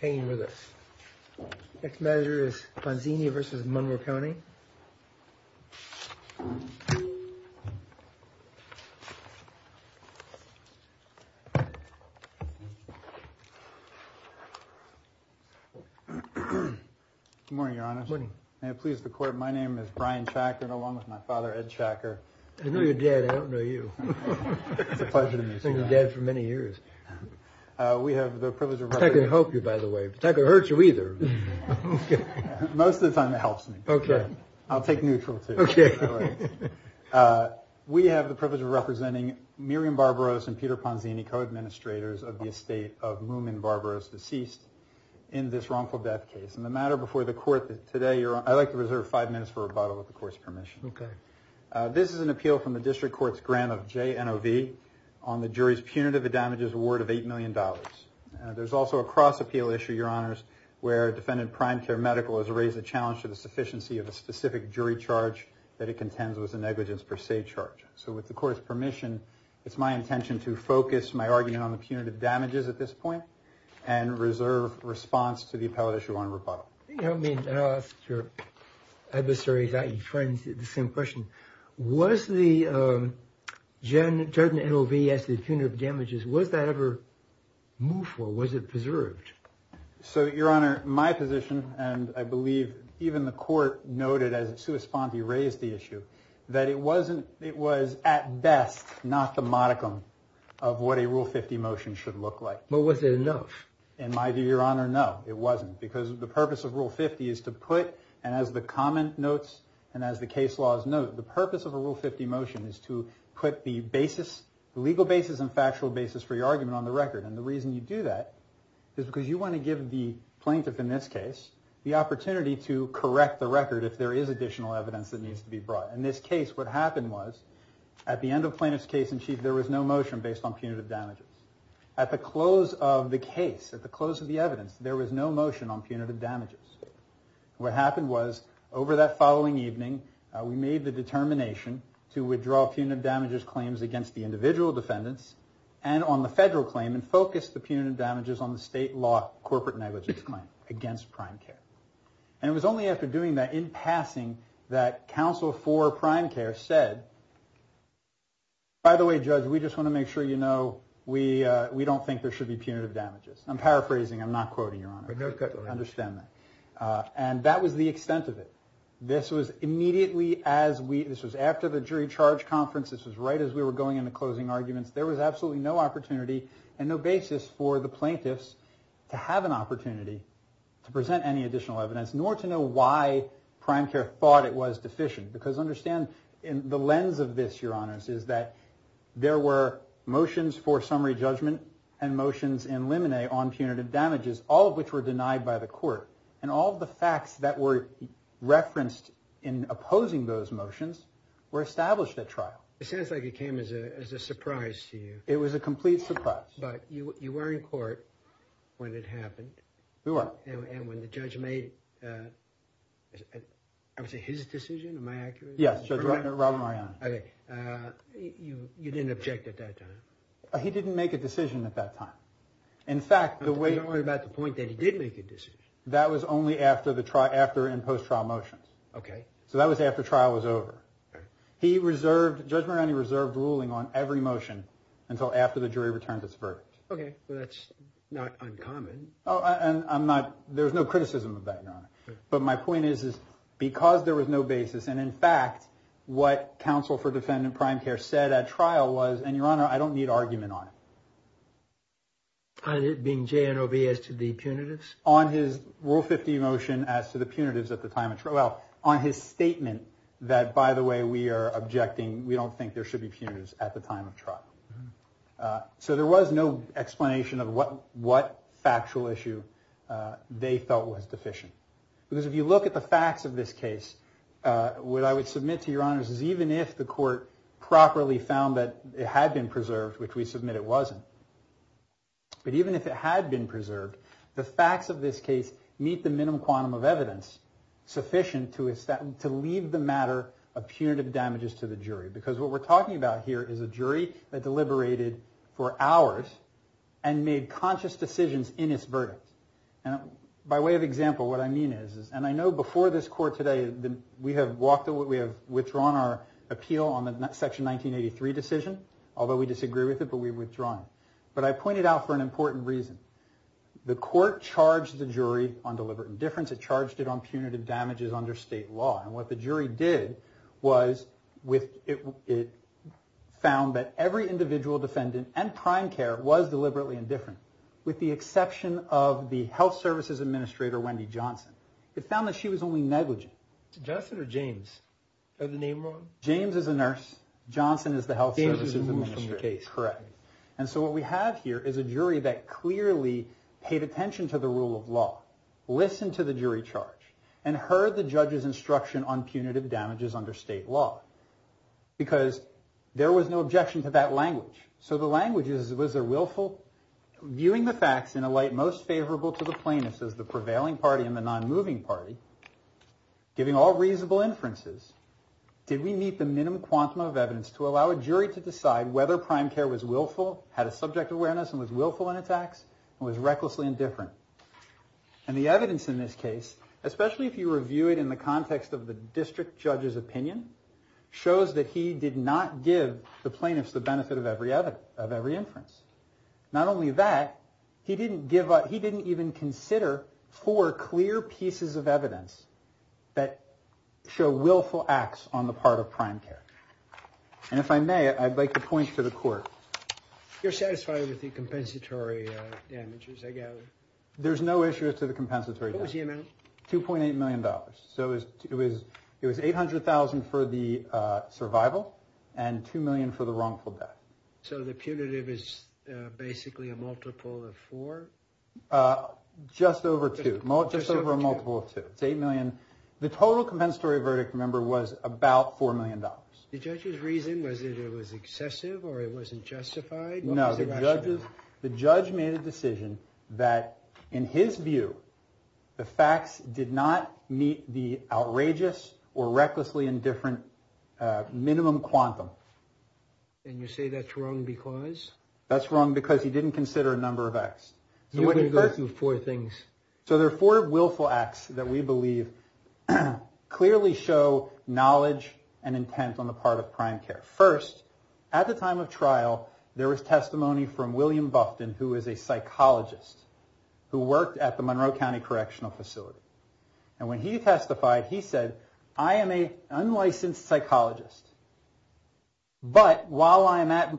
Hanging with us. Next measure is Ponzini v. Monroe County. Good morning, Your Honor. Good morning. May it please the Court, my name is Brian Chakran, along with my father, Ed Chakran. I know your dad, I don't know you. It's a pleasure to meet you, Your Honor. I've known your dad for many years. I can't help you, by the way. I can't hurt you, either. Most of the time it helps me. I'll take neutral, too. We have the privilege of representing Miriam Barbaros and Peter Ponzini, co-administrators of the estate of Moomin Barbaros, deceased in this wrongful death case. I'd like to reserve five minutes for rebuttal, with the Court's permission. This is an appeal from the District Court's grant of JNOV on the jury's punitive damages award of $8 million. There's also a cross-appeal issue, Your Honors, where Defendant Prime Care Medical has raised the challenge to the sufficiency of a specific jury charge that it contends was a negligence per se charge. So with the Court's permission, it's my intention to focus my argument on the punitive damages at this point and reserve response to the appellate issue on rebuttal. I'll ask your adversaries, i.e. friends, the same question. Was the JNOV, as the punitive damages, was that ever moved for? Was it preserved? So, Your Honor, my position, and I believe even the Court noted as it corresponded to the issue, that it was, at best, not the modicum of what a Rule 50 motion should look like. But was it enough? In my view, Your Honor, no, it wasn't, because the purpose of Rule 50 is to put, and as the comment notes and as the case laws note, the purpose of a Rule 50 motion is to put the legal basis and factual basis for your argument on the record. And the reason you do that is because you want to give the plaintiff, in this case, the opportunity to correct the record if there is additional evidence that needs to be brought. In this case, what happened was, at the end of Plaintiff's case in Chief, there was no motion based on punitive damages. At the close of the case, at the close of the evidence, there was no motion on punitive damages. What happened was, over that following evening, we made the determination to withdraw punitive damages claims against the individual defendants, and on the federal claim, and focused the punitive damages on the state law corporate negligence claim against prime care. And it was only after doing that, in passing, that counsel for prime care said, by the way, Judge, we just want to make sure you know, we are not going to do that. We don't think there should be punitive damages. I'm paraphrasing. I'm not quoting, Your Honor. And that was the extent of it. This was immediately after the jury charge conference. This was right as we were going into closing arguments. There was absolutely no opportunity and no basis for the plaintiffs to have an opportunity to present any additional evidence, nor to know why prime care thought it was deficient. Because understand, the lens of this, Your Honors, is that there were motions for summary judgment and motions in limine on punitive damages, all of which were denied by the court. And all the facts that were referenced in opposing those motions were established at trial. It sounds like it came as a surprise to you. It was a complete surprise. But you were in court when it happened. We were. And when the judge made, I would say, his decision, am I accurate? Yes, Judge Robert Mariani. You didn't object at that time. He didn't make a decision at that time. Don't worry about the point that he did make a decision. That was only after and post-trial motions. So that was after trial was over. Judge Mariani reserved ruling on every motion until after the jury returned its verdict. Okay. That's not uncommon. There's no criticism of that, Your Honor. But my point is, because there was no basis, and in fact, what counsel for defendant prime care said at trial was, and Your Honor, I don't need argument on it. On it being JNOB as to the punitives? On his Rule 50 motion as to the punitives at the time of trial. Well, on his statement that, by the way, we are objecting, we don't think there should be punitives at the time of trial. So there was no explanation of what factual issue they felt was deficient. Because if you look at the facts of this case, what I would submit to Your Honor is even if the court properly found that it had been preserved, which we submit it wasn't, but even if it had been preserved, the facts of this case meet the minimum quantum of evidence sufficient to leave the matter of punitive damages to the jury. Because what we're talking about here is a jury that deliberated for hours and made conscious decisions in its verdict. And by way of example, what I mean is, and I know before this court today, we have walked away, we have withdrawn our appeal on the Section 1983 decision, although we disagree with it, but we've withdrawn it. But I pointed out for an important reason. The court charged the jury on deliberate indifference. It charged it on punitive damages under state law. And what the jury did was it found that every individual defendant and prime care was deliberately indifferent, with the exception of the health services administrator, Wendy Johnson. It found that she was only negligent. James is a nurse. Johnson is the health services administrator. Correct. And so what we have here is a jury that clearly paid attention to the rule of law, listened to the jury charge, and heard the judge's instruction on punitive damages under state law. Because there was no objection to that language. So the language is, was there willful? Viewing the facts in a light most favorable to the plaintiffs as the prevailing party and the non-moving party, giving all reasonable inferences, did we meet the minimum quantum of evidence to allow a jury to decide whether prime care was willful, had a subject awareness, and was willful in its acts, and was recklessly indifferent? And the evidence in this case, especially if you review it in the context of the district judge's opinion, shows that he did not give the plaintiffs the benefit of every inference. Not only that, he didn't even consider four clear pieces of evidence that show willful acts on the part of prime care. And if I may, I'd like to point to the court. You're satisfied with the compensatory damages, I gather? There's no issue as to the compensatory damages. What was the amount? $2.8 million. So it was $800,000 for the survival and $2 million for the wrongful death. So the punitive is basically a multiple of four? Just over two. Just over a multiple of two. It's $8 million. The total compensatory verdict, remember, was about $4 million. The judge's reason was that it was excessive or it wasn't justified? No, the judge made a decision that, in his view, the facts did not meet the outrageous or recklessly indifferent minimum quantum. And you say that's wrong because? That's wrong because he didn't consider a number of acts. So there are four willful acts that we believe clearly show knowledge and intent on the part of prime care. First, at the time of trial, there was testimony from William Bufton, who is a psychologist, who worked at the Monroe County Correctional Facility. And when he testified, he said, I am an unlicensed psychologist. But while I'm at the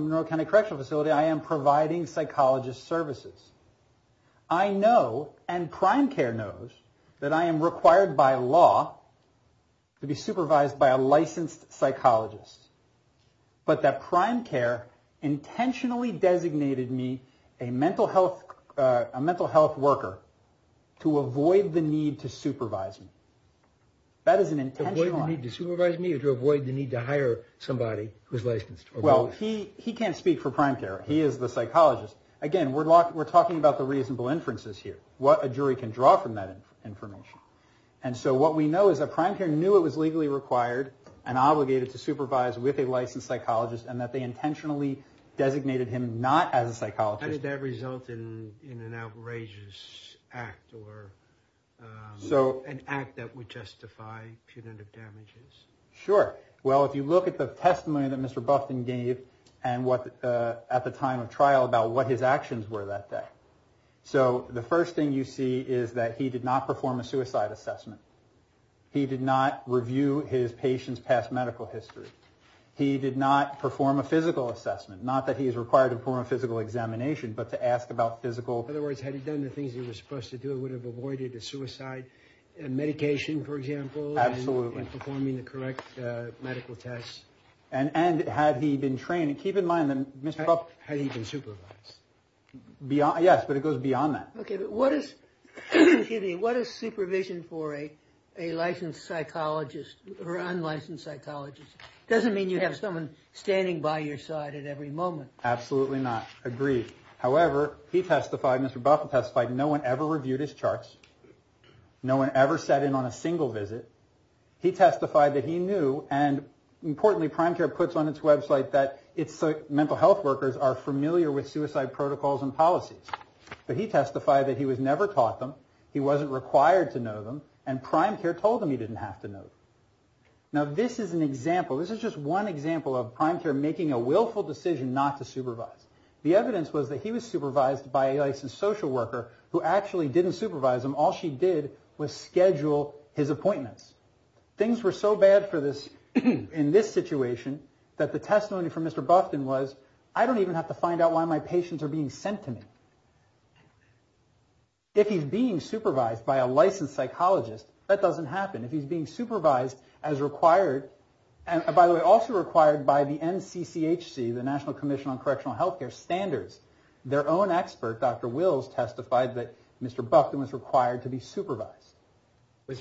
Monroe County Correctional Facility, I am providing psychologist services. I know, and prime care knows, that I am required by law to be supervised by a licensed psychologist. But that prime care intentionally designated me a mental health worker to avoid the need to supervise me. That is an intentional act. Avoid the need to supervise me or to avoid the need to hire somebody who is licensed? Well, he can't speak for prime care. He is the psychologist. Again, we're talking about the reasonable inferences here, what a jury can draw from that information. And so what we know is that prime care knew it was legally required and obligated to supervise me. And that they intentionally designated him not as a psychologist. How did that result in an outrageous act or an act that would justify punitive damages? Sure. Well, if you look at the testimony that Mr. Bufton gave at the time of trial about what his actions were that day. So the first thing you see is that he did not perform a suicide assessment. He did not review his patient's past medical history. He did not perform a physical assessment. Not that he is required to perform a physical examination, but to ask about physical... In other words, had he done the things he was supposed to do, it would have avoided a suicide. And medication, for example. Absolutely. And performing the correct medical tests. And had he been trained... Had he been supervised. Yes, but it goes beyond that. Okay, but what is supervision for a licensed psychologist or unlicensed psychologist? It doesn't mean you have someone standing by your side at every moment. Absolutely not. Agreed. However, he testified, Mr. Bufton testified, no one ever reviewed his charts. No one ever sat in on a single visit. He testified that he knew, and importantly, prime care puts on its website that its mental health workers are familiar with suicide protocols and policies. But he testified that he was never taught them. He wasn't required to know them. And prime care told him he didn't have to know them. Now, this is an example. This is just one example of prime care making a willful decision not to supervise. The evidence was that he was supervised by a licensed social worker who actually didn't supervise him. All she did was schedule his appointments. Things were so bad for this... If he's being supervised by a licensed psychologist, that doesn't happen. If he's being supervised as required, and by the way, also required by the NCCHC, the National Commission on Correctional Health Care Standards, their own expert, Dr. Wills, testified that Mr. Buckton was required to be supervised. I'm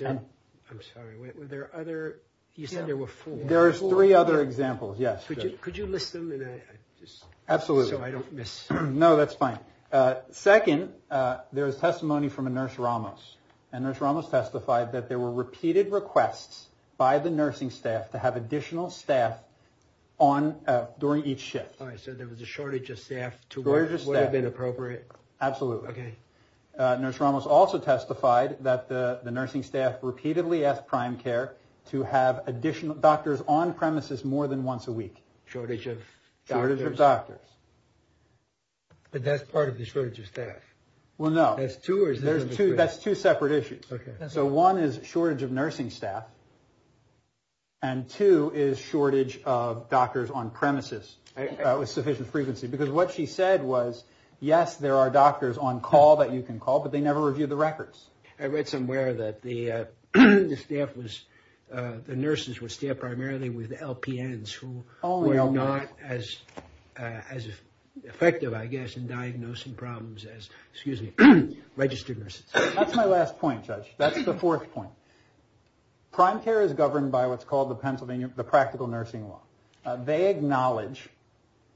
sorry, were there other... You said there were four. There are three other examples, yes. Could you list them? Absolutely. No, that's fine. Second, there is testimony from a Nurse Ramos. And Nurse Ramos testified that there were repeated requests by the nursing staff to have additional staff during each shift. So there was a shortage of staff. Absolutely. Nurse Ramos also testified that the nursing staff repeatedly asked prime care to have additional doctors on premises more than once a week. Shortage of doctors. But that's part of the shortage of staff. Well, no. That's two separate issues. So one is shortage of nursing staff, and two is shortage of doctors on premises with sufficient frequency. Because what she said was, yes, there are doctors on call that you can call, but they never review the records. I read somewhere that the nurses were staffed primarily with LPNs, who were not as effective, I guess, in diagnosing problems as registered nurses. That's my last point, Judge. That's the fourth point. Prime care is governed by what's called the Practical Nursing Law. They acknowledge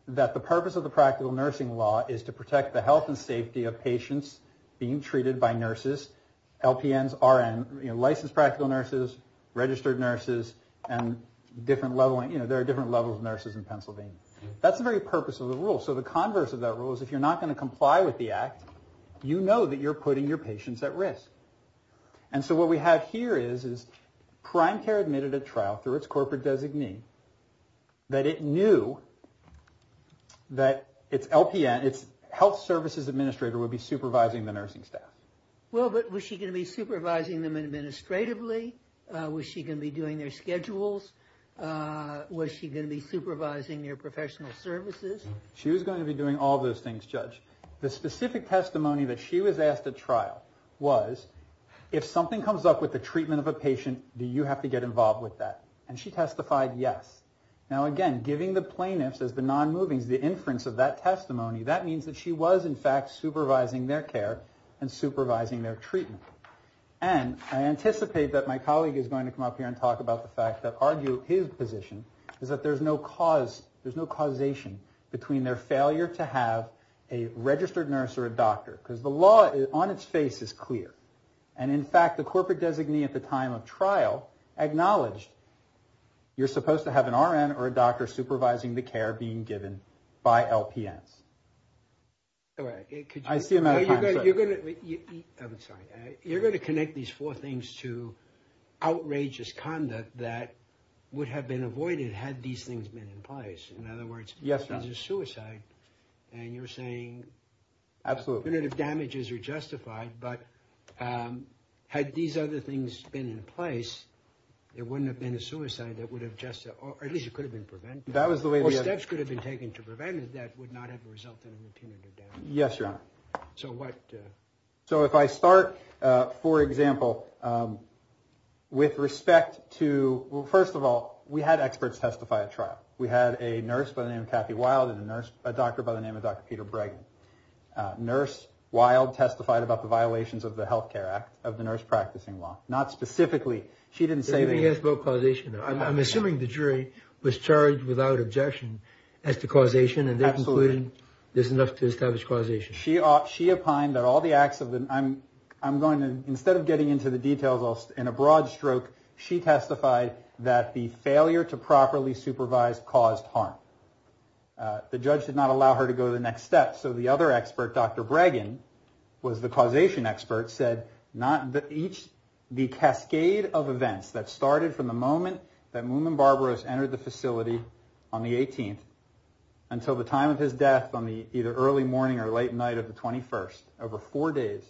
that the purpose of the Practical Nursing Law is to protect the health and safety of patients being treated by nurses, LPNs, RNs, licensed practical nurses, registered nurses, and there are different levels of nurses in Pennsylvania. That's the very purpose of the rule. So the converse of that rule is, if you're not going to comply with the act, you know that you're putting your patients at risk. And so what we have here is, Prime Care admitted at trial, through its corporate designee, that it knew that its LPN, its health services administrator, would be supervising the nursing staff. Well, but was she going to be supervising them administratively? Was she going to be doing their schedules? Was she going to be supervising their professional services? She was going to be doing all those things, Judge. The specific testimony that she was asked at trial was, if something comes up with the treatment of a patient, do you have to get involved with that? And she testified yes. Now again, giving the plaintiffs as the non-movings the inference of that testimony, that means that she was in fact supervising their care and supervising their treatment. And I anticipate that my colleague is going to come up here and talk about the fact that argue his position is that there's no causation between their failure to have a registered nurse or a doctor. Because the law on its face is clear. And in fact, the corporate designee at the time of trial acknowledged you're supposed to have an RN or a doctor supervising the care being given by LPNs. I see a matter of time, sir. You're going to connect these four things to outrageous conduct that would have been avoided had these things been in place. In other words, this is suicide. And you're saying punitive damages are justified. But had these other things been in place, there wouldn't have been a suicide. Or at least it could have been prevented. Or steps could have been taken to prevent it that would not have resulted in a punitive damage. Yes, Your Honor. So if I start, for example, with respect to... Well, first of all, we had experts testify at trial. We had a nurse by the name of Kathy Wild and a doctor by the name of Dr. Peter Bregman. Nurse Wild testified about the violations of the Health Care Act, of the nurse practicing law. Not specifically. I'm assuming the jury was charged without objection as to causation. Absolutely. There's enough to establish causation. Instead of getting into the details in a broad stroke, she testified that the failure to properly supervise caused harm. The judge did not allow her to go to the next step. So the other expert, Dr. Bregman, was the causation expert, said that the cascade of events that started from the moment that Moomin Barbaros entered the facility on the 18th until the time of his death on the early morning or late night of the 21st, over four days,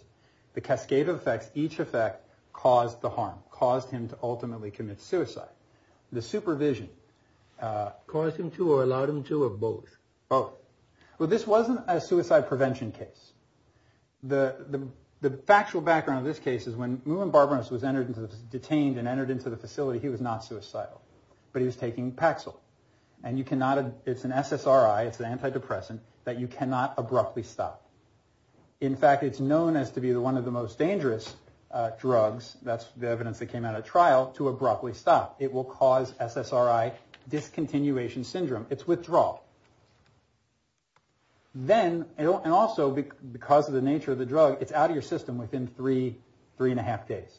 the cascade of effects, each effect caused the harm, caused him to ultimately commit suicide. The supervision... Caused him to or allowed him to, or both? Both. Well, this wasn't a suicide prevention case. The factual background of this case is when Moomin Barbaros was detained and entered into the facility, he was not suicidal. But he was taking Paxil. And you cannot, it's an SSRI, it's an antidepressant, that you cannot abruptly stop. In fact, it's known as to be one of the most dangerous drugs, that's the evidence that came out of trial, to abruptly stop. It will cause SSRI discontinuation syndrome. It's withdrawal. Then, and also because of the nature of the drug, it's out of your system within three, three and a half days.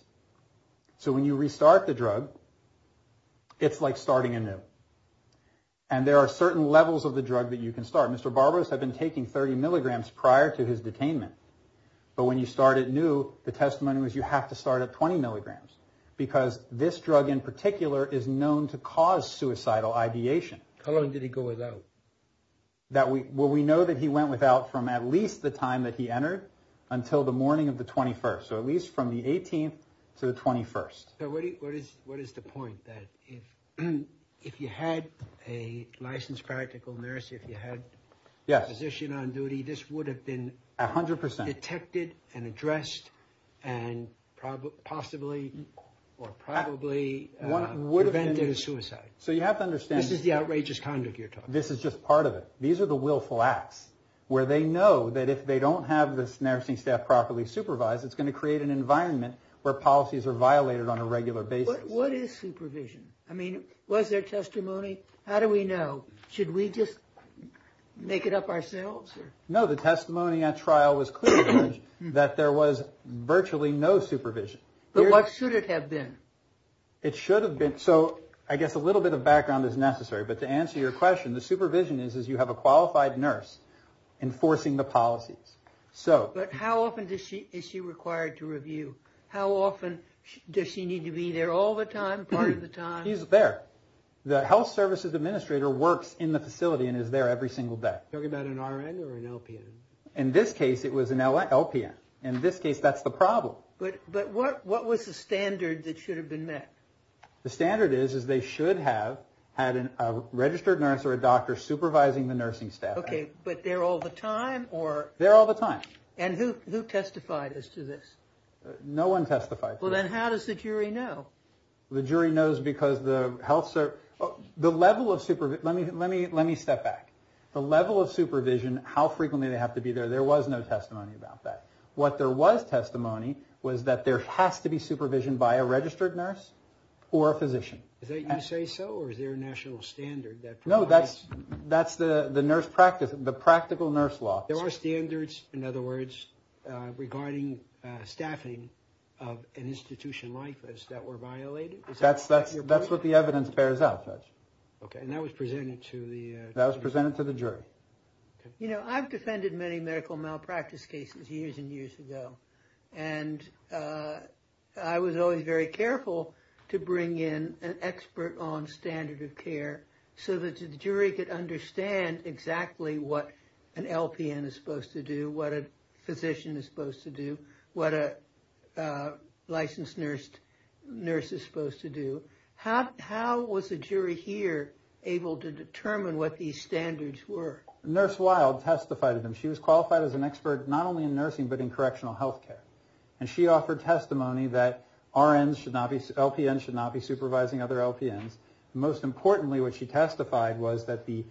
So when you restart the drug, it's like starting anew. And there are certain levels of the drug that you can start. Mr. Barbaros had been taking 30 milligrams prior to his detainment. But when you start anew, the testimony was, you have to start at 20 milligrams. Because this drug in particular is known to cause suicidal ideation. How long did he go without? Well, we know that he went without from at least the time that he entered, until the morning of the 21st. So at least from the 18th to the 21st. What is the point? If you had a licensed practical nurse, if you had a physician on duty, this would have been detected and addressed, and possibly, or probably, prevented a suicide. This is the outrageous conduct you're talking about. This is just part of it. These are the willful acts. Where they know that if they don't have this nursing staff properly supervised, it's going to create an environment where policies are violated on a regular basis. What is supervision? Was there testimony? How do we know? Should we just make it up ourselves? No, the testimony at trial was clear, that there was virtually no supervision. But what should it have been? I guess a little bit of background is necessary. But to answer your question, the supervision is you have a qualified nurse enforcing the policies. But how often is she required to review? How often does she need to be there? All the time? Part of the time? She's there. The health services administrator works in the facility and is there every single day. Are you talking about an RN or an LPN? In this case, it was an LPN. In this case, that's the problem. But what was the standard that should have been met? The standard is they should have had a registered nurse or a doctor supervising the nursing staff. Okay, but they're all the time? They're all the time. And who testified as to this? No one testified. Well, then how does the jury know? Let me step back. The level of supervision, how frequently they have to be there, there was no testimony about that. What there was testimony was that there has to be supervision by a registered nurse or a physician. Is that you say so or is there a national standard? No, that's the nurse practice, the practical nurse law. There are standards, in other words, regarding staffing of an institution like this that were violated? That's what the evidence bears out, Judge. Okay, and that was presented to the jury? You know, I've defended many medical malpractice cases years and years ago. And I was always very careful to bring in an expert on standard of care so that the jury could understand exactly what an LPN is supposed to do, what a physician is supposed to do, what a licensed nurse is supposed to do. How was the jury here able to determine what these standards were? Nurse Wild testified to them. She was qualified as an expert not only in nursing but in correctional health care. And she offered testimony that LPNs should not be supervising other LPNs. Most importantly, what she testified was that the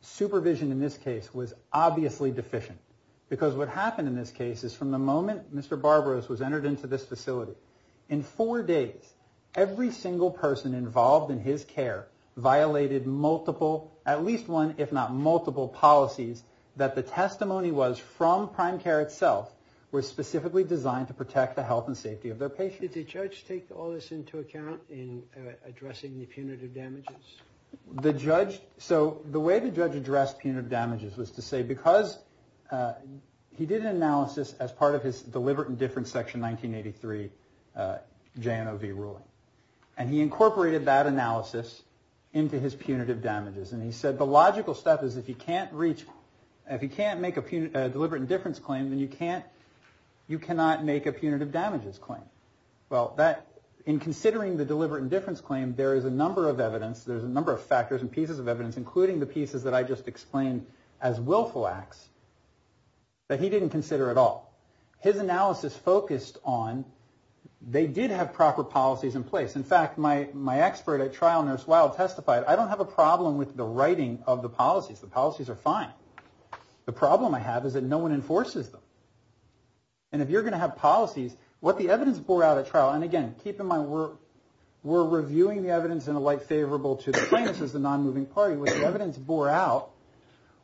supervision in this case was obviously deficient. Because what happened in this case is from the moment Mr. Barbaros was entered into this facility, in four days, every single person involved in his care violated multiple, at least one if not multiple policies that the testimony was from prime care itself was specifically designed to protect the health and safety of their patients. Did the judge take all this into account in addressing the punitive damages? The judge, so the way the judge addressed punitive damages was to say because he did an analysis as part of his deliberate indifference section 1983 JNOV ruling. And he incorporated that analysis into his punitive damages. And he said the logical step is if you can't make a deliberate indifference claim then you cannot make a punitive damages claim. Well, in considering the deliberate indifference claim there is a number of factors and pieces of evidence including the pieces that I just explained as willful acts that he didn't consider at all. His analysis focused on they did have proper policies in place. In fact, my expert at trial, Nurse Wild, testified I don't have a problem with the writing of the policies. The policies are fine. The problem I have is that no one enforces them. And if you're going to have policies, what the evidence bore out at trial and again, keep in mind we're reviewing the evidence in a light favorable to the plaintiffs as a non-moving party. What the evidence bore out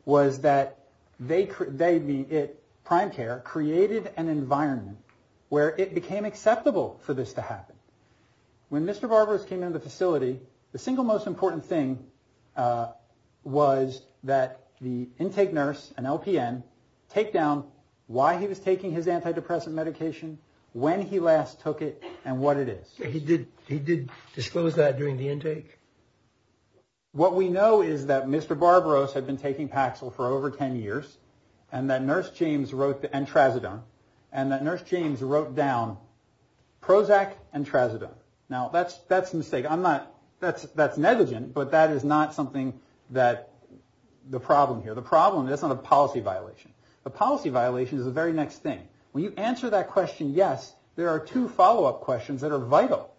was that they, prime care, created an environment where it became acceptable for this to happen. When Mr. Barbaros came into the facility the single most important thing was that the intake nurse and LPN take down why he was taking his antidepressant medication when he last took it and what it is. He did disclose that during the intake? What we know is that Mr. Barbaros had been taking Paxil for over 10 years and that Nurse James wrote down Prozac and Trazodone. Now, that's a mistake. That's negligent, but that is not something that the problem here. The problem is not a policy violation. The policy violation is the very next thing. When you answer that question, yes, there are two follow-up questions that are vital.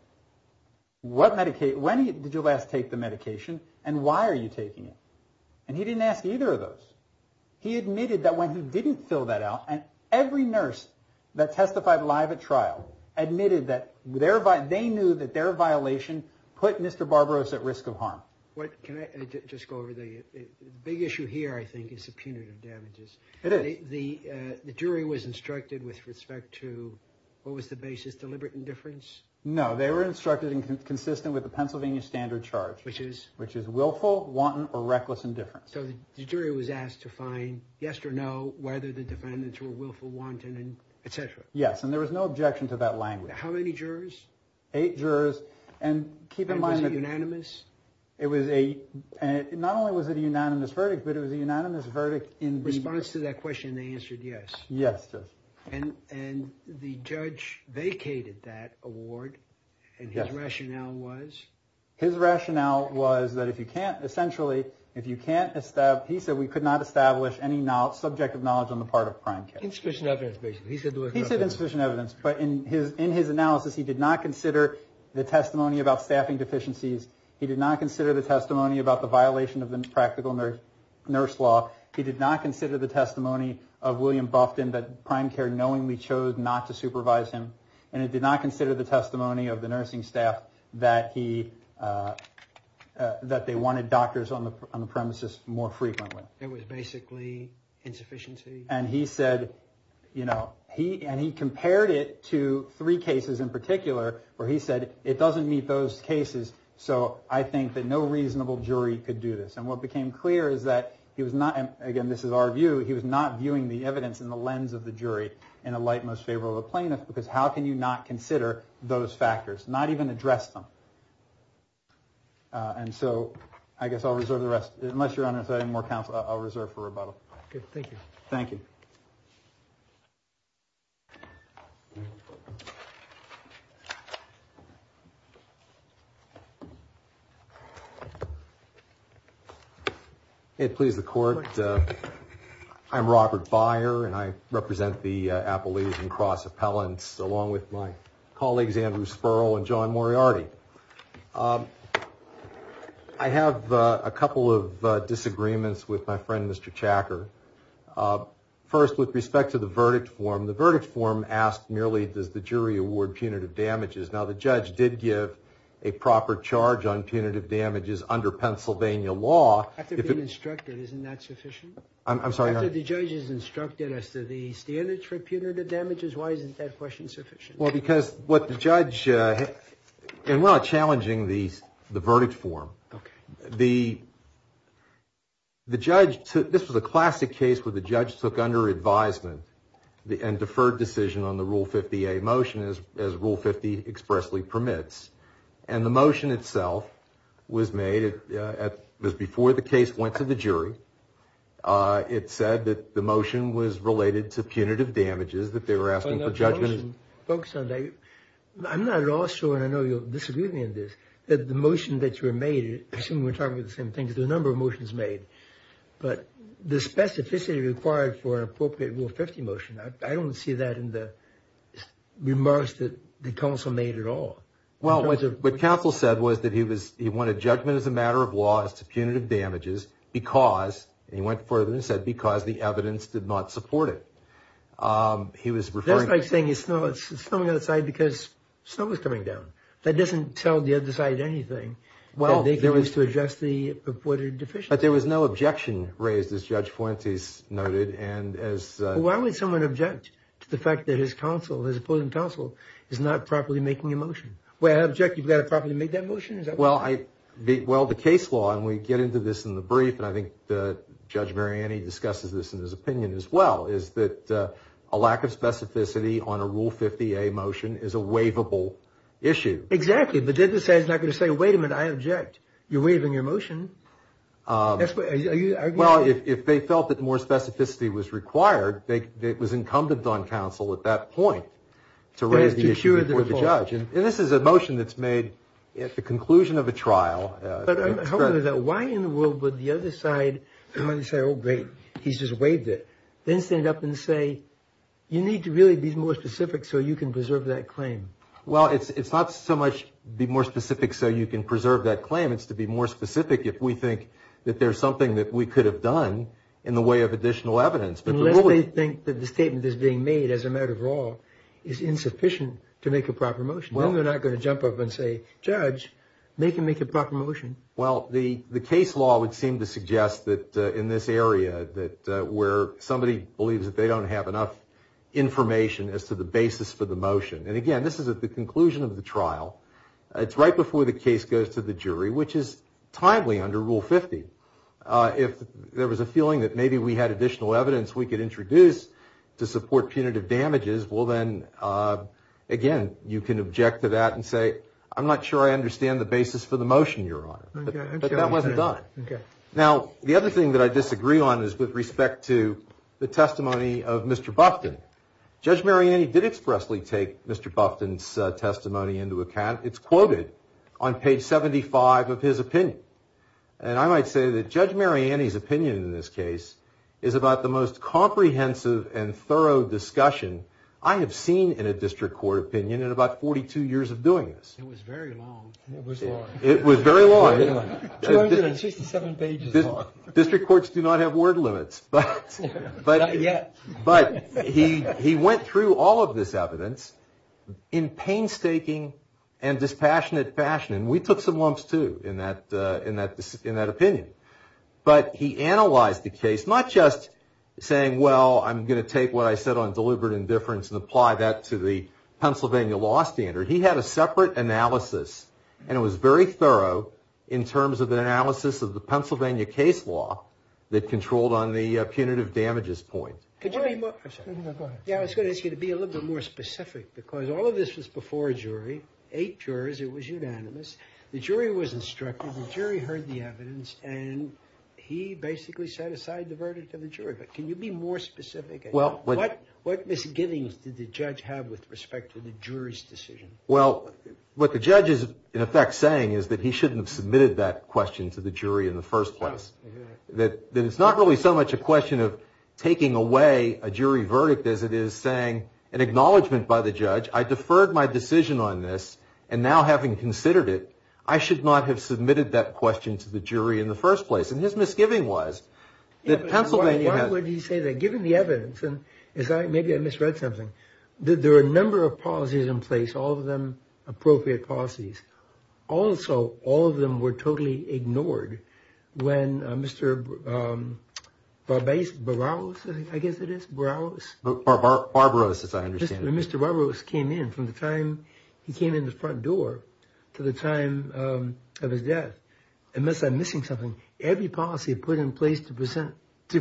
When did you last take the medication and why are you taking it? And he didn't ask either of those. He admitted that when he didn't fill that out and every nurse that testified live at trial admitted that they knew that their violation put Mr. Barbaros at risk of harm. Can I just go over the big issue here I think is the punitive damages. The jury was instructed with respect to what was the basis, deliberate indifference? No, they were instructed and consistent with the Pennsylvania standard charge which is willful, wanton, or reckless indifference. So the jury was asked to find yes or no whether the defendants were willful, wanton, etc. Yes, and there was no objection to that language. How many jurors? Eight jurors. Was it unanimous? Not only was it a unanimous verdict, but it was a unanimous verdict in response to that question they answered yes. And the judge vacated that award and his rationale was? His rationale was that if you can't essentially if you can't establish, he said we could not establish any subject of knowledge on the part of prime care. He said insufficient evidence, but in his analysis he did not consider the testimony about staffing deficiencies he did not consider the testimony about the violation of the practical nurse law, he did not consider the testimony of William Bufton that prime care knowingly chose not to supervise him, and he did not consider the testimony of the nursing staff that he that they wanted doctors on the premises more frequently. It was basically insufficiency. And he compared it to three cases in particular where he said it doesn't meet those cases so I think that no reasonable jury could do this. And what became clear is that he was not he was not viewing the evidence in the lens of the jury in the light most favorable of the plaintiff because how can you not consider those factors not even address them. And so I guess I'll reserve the rest I'll reserve for rebuttal. Thank you. Please the court. I'm Robert Byer and I represent the Appalachian Cross Appellants along with my colleagues Andrew Spurl and John Moriarty. I have a couple of disagreements with my friend Mr. Chacker. First with respect to the verdict form the verdict form asked merely does the jury award punitive damages now the judge did give a proper charge on punitive damages under Pennsylvania law. After being instructed isn't that sufficient? I'm sorry. After the judge has instructed us to the standard for punitive damages why isn't that question sufficient? Well because what the judge and we're not challenging the verdict form. The judge took this was a classic case where the judge took under advisement and deferred decision on the rule 50A motion as rule 50 expressly permits. And the motion itself was made before the case went to the jury. It said that the motion was related to punitive damages that they were asking for judgment. I'm not at all sure and I know you'll disagree with me on this that the motion that you were made I assume we're talking about the same thing as the number of motions made but the specificity required for an appropriate rule 50 motion I don't see that in the remarks that the counsel made at all. Well what counsel said was that he wanted judgment as a matter of law as to punitive damages because he went further and said because the evidence did not support it. That's like saying it's snowing on the side because snow was coming down. That doesn't tell the other side anything. Well there was no objection raised as Judge Fuentes noted. Well why would someone object to the fact that his counsel his opposing counsel is not properly making a motion? Well I object you've got to properly make that motion? Well the case law and we get into this in the brief and I think Judge Mariani discusses this in his opinion as well is that a lack of specificity on a rule 50A motion is a waivable issue. Exactly but the judge is not going to say wait a minute I object. You're waiving your motion. Well if they felt that more specificity was required it was incumbent on counsel at that point to raise the issue before the judge. And this is a motion that's made at the conclusion of a trial. But why in the world would the other side say oh great he's just waived it. Then stand up and say you need to really be more specific so you can preserve that claim. Well it's not so much be more specific so you can preserve that claim it's to be more specific if we think that there's something that we could have done in the way of additional evidence. Unless they think that the statement is being made as a matter of law is insufficient to make a proper motion. Then they're not going to jump up and say judge make him make a proper motion. Well the case law would seem to suggest that in this area where somebody believes that they don't have enough information as to the basis for the motion. And again this is at the conclusion of the trial. It's right before the case goes to the jury which is timely under rule 50. If there was a feeling that maybe we had additional evidence we could introduce to support punitive damages well then again you can object to that and say I'm not sure I understand the basis for the motion your honor. But that wasn't done. Now the other thing that I disagree on is with respect to the testimony of Mr. Bufton. Judge Mariani did expressly take Mr. Bufton's testimony into account. It's quoted on page 75 of his opinion. And I might say that Judge Mariani's opinion in this case is about the most comprehensive and thorough discussion I have seen in a district court opinion in about 42 years of doing this. It was very long. It was very long. 267 pages long. District courts do not have word limits. Not yet. But he went through all of this evidence in painstaking and dispassionate fashion. And we took some lumps too in that opinion. But he analyzed the case not just saying well I'm going to take what I said on deliberate indifference and apply that to the Pennsylvania law standard. He had a separate analysis and it was very thorough in terms of the analysis of the Pennsylvania case law that controlled on the punitive damages point. I was going to ask you to be a little bit more specific because all of this was before a jury. Eight jurors. It was unanimous. The jury was instructed. The jury heard the evidence and he basically set aside the verdict of the jury. But can you be more specific? What misgivings did the judge have with respect to the jury's decision? What the judge is in effect saying is that he shouldn't have submitted that question to the jury in the first place. That it's not really so much a question of taking away a jury verdict as it is saying an acknowledgement by the judge I deferred my decision on this and now having considered it I should not have submitted that question to the jury in the first place. And his misgiving was Why would he say that? Given the evidence Maybe I misread something. There are a number of policies in place, all of them appropriate policies. Also, all of them were totally ignored when Mr. Barbaros Barbaros, I guess it is Barbaros as I understand it Mr. Barbaros came in from the time he came in the front door to the time of his death. Unless I'm missing something, every policy put in place to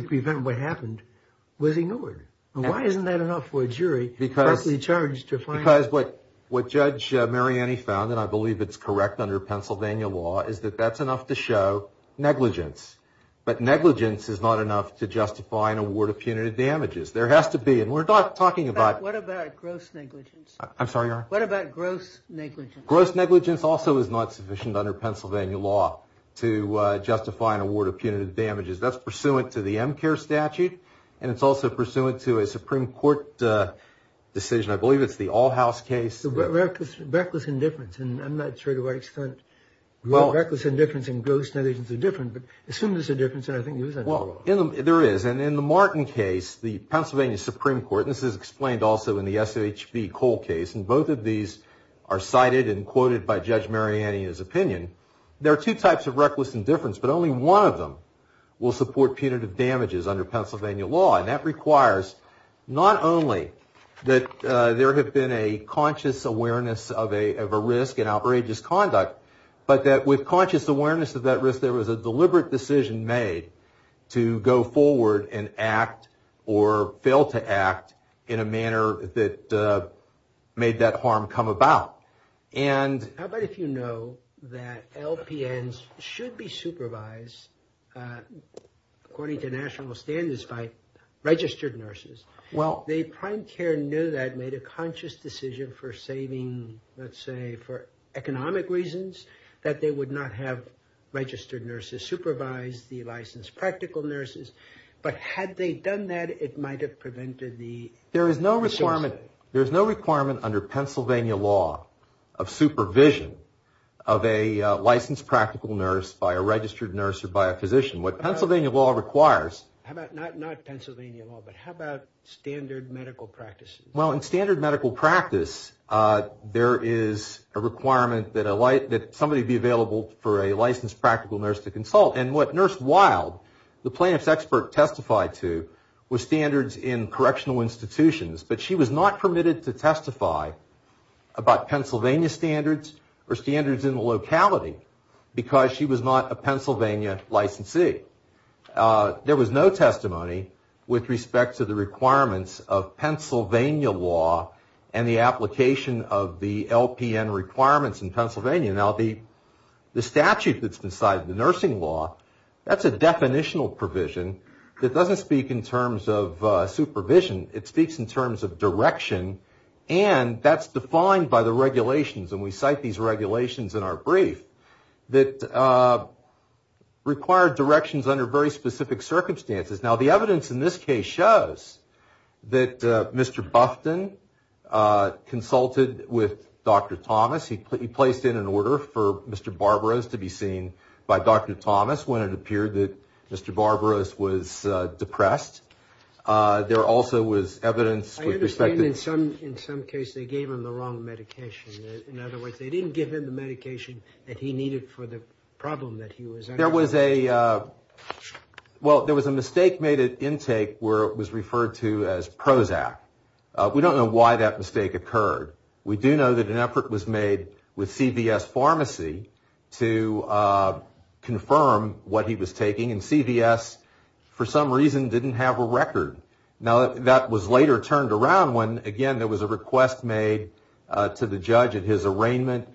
prevent what happened was ignored. Why isn't that enough for a jury Because what Judge Mariani found and I believe it's correct under Pennsylvania law is that that's enough to show negligence. But negligence is not enough to justify an award of punitive damages. There has to be and we're not talking about What about gross negligence? What about gross negligence? Gross negligence also is not sufficient under Pennsylvania law to justify an award of punitive damages. That's pursuant to the MCARE statute. And it's also pursuant to a Supreme Court decision. I believe it's the All House case. Reckless indifference I'm not sure to what extent Reckless indifference and gross negligence are different. But I assume there's a difference There is. And in the Martin case, the Pennsylvania HB Cole case, and both of these are cited and quoted by Judge Mariani's opinion, there are two types of reckless indifference, but only one of them will support punitive damages under Pennsylvania law. And that requires not only that there have been a conscious awareness of a risk and outrageous conduct, but that with conscious awareness of that risk, there was a deliberate decision made to go forward and act or fail to act in a manner that made that harm come about. How about if you know that LPNs should be supervised according to national standards by registered nurses? Well, the prime care knew that, made a conscious decision for saving, let's say, for economic reasons, that they would not have registered nurses supervise the licensed practical nurses. But had they done that, it might have prevented the... There is no requirement under Pennsylvania law of supervision of a licensed practical nurse by a registered nurse or by a physician. What Pennsylvania law requires... Not Pennsylvania law, but how about standard medical practices? Well, in standard medical practice there is a requirement that somebody be available for a licensed practical nurse to consult. And what Nurse Wild, the plaintiff's expert testified to, was standards in correctional institutions. But she was not permitted to testify about Pennsylvania standards or standards in the locality, because she was not a Pennsylvania licensee. There was no testimony with respect to the requirements of Pennsylvania law and the application of the LPN requirements in Pennsylvania. Now, the statute that's inside the nursing law, that's a definitional provision that doesn't speak in terms of supervision. It speaks in terms of direction, and that's defined by the regulations, and we cite these regulations in our brief, that require directions under very specific circumstances. Now, the evidence in this case shows that Mr. Bufton consulted with Dr. Thomas. He placed in an order for Mr. Barbaros to be seen by Dr. Thomas when it appeared that Mr. Barbaros was depressed. There also was evidence with respect to... I understand in some case they gave him the wrong medication. In other words, they didn't give him the medication that he needed for the problem that he was under. There was a... Well, there was a mistake made at intake where it was referred to as Prozac. We don't know why that mistake occurred. We do know that an effort was made with CVS Pharmacy to confirm what he was taking, and CVS for some reason didn't have a record. Now, that was later turned around when, again, there was a request made to the judge at his arraignment.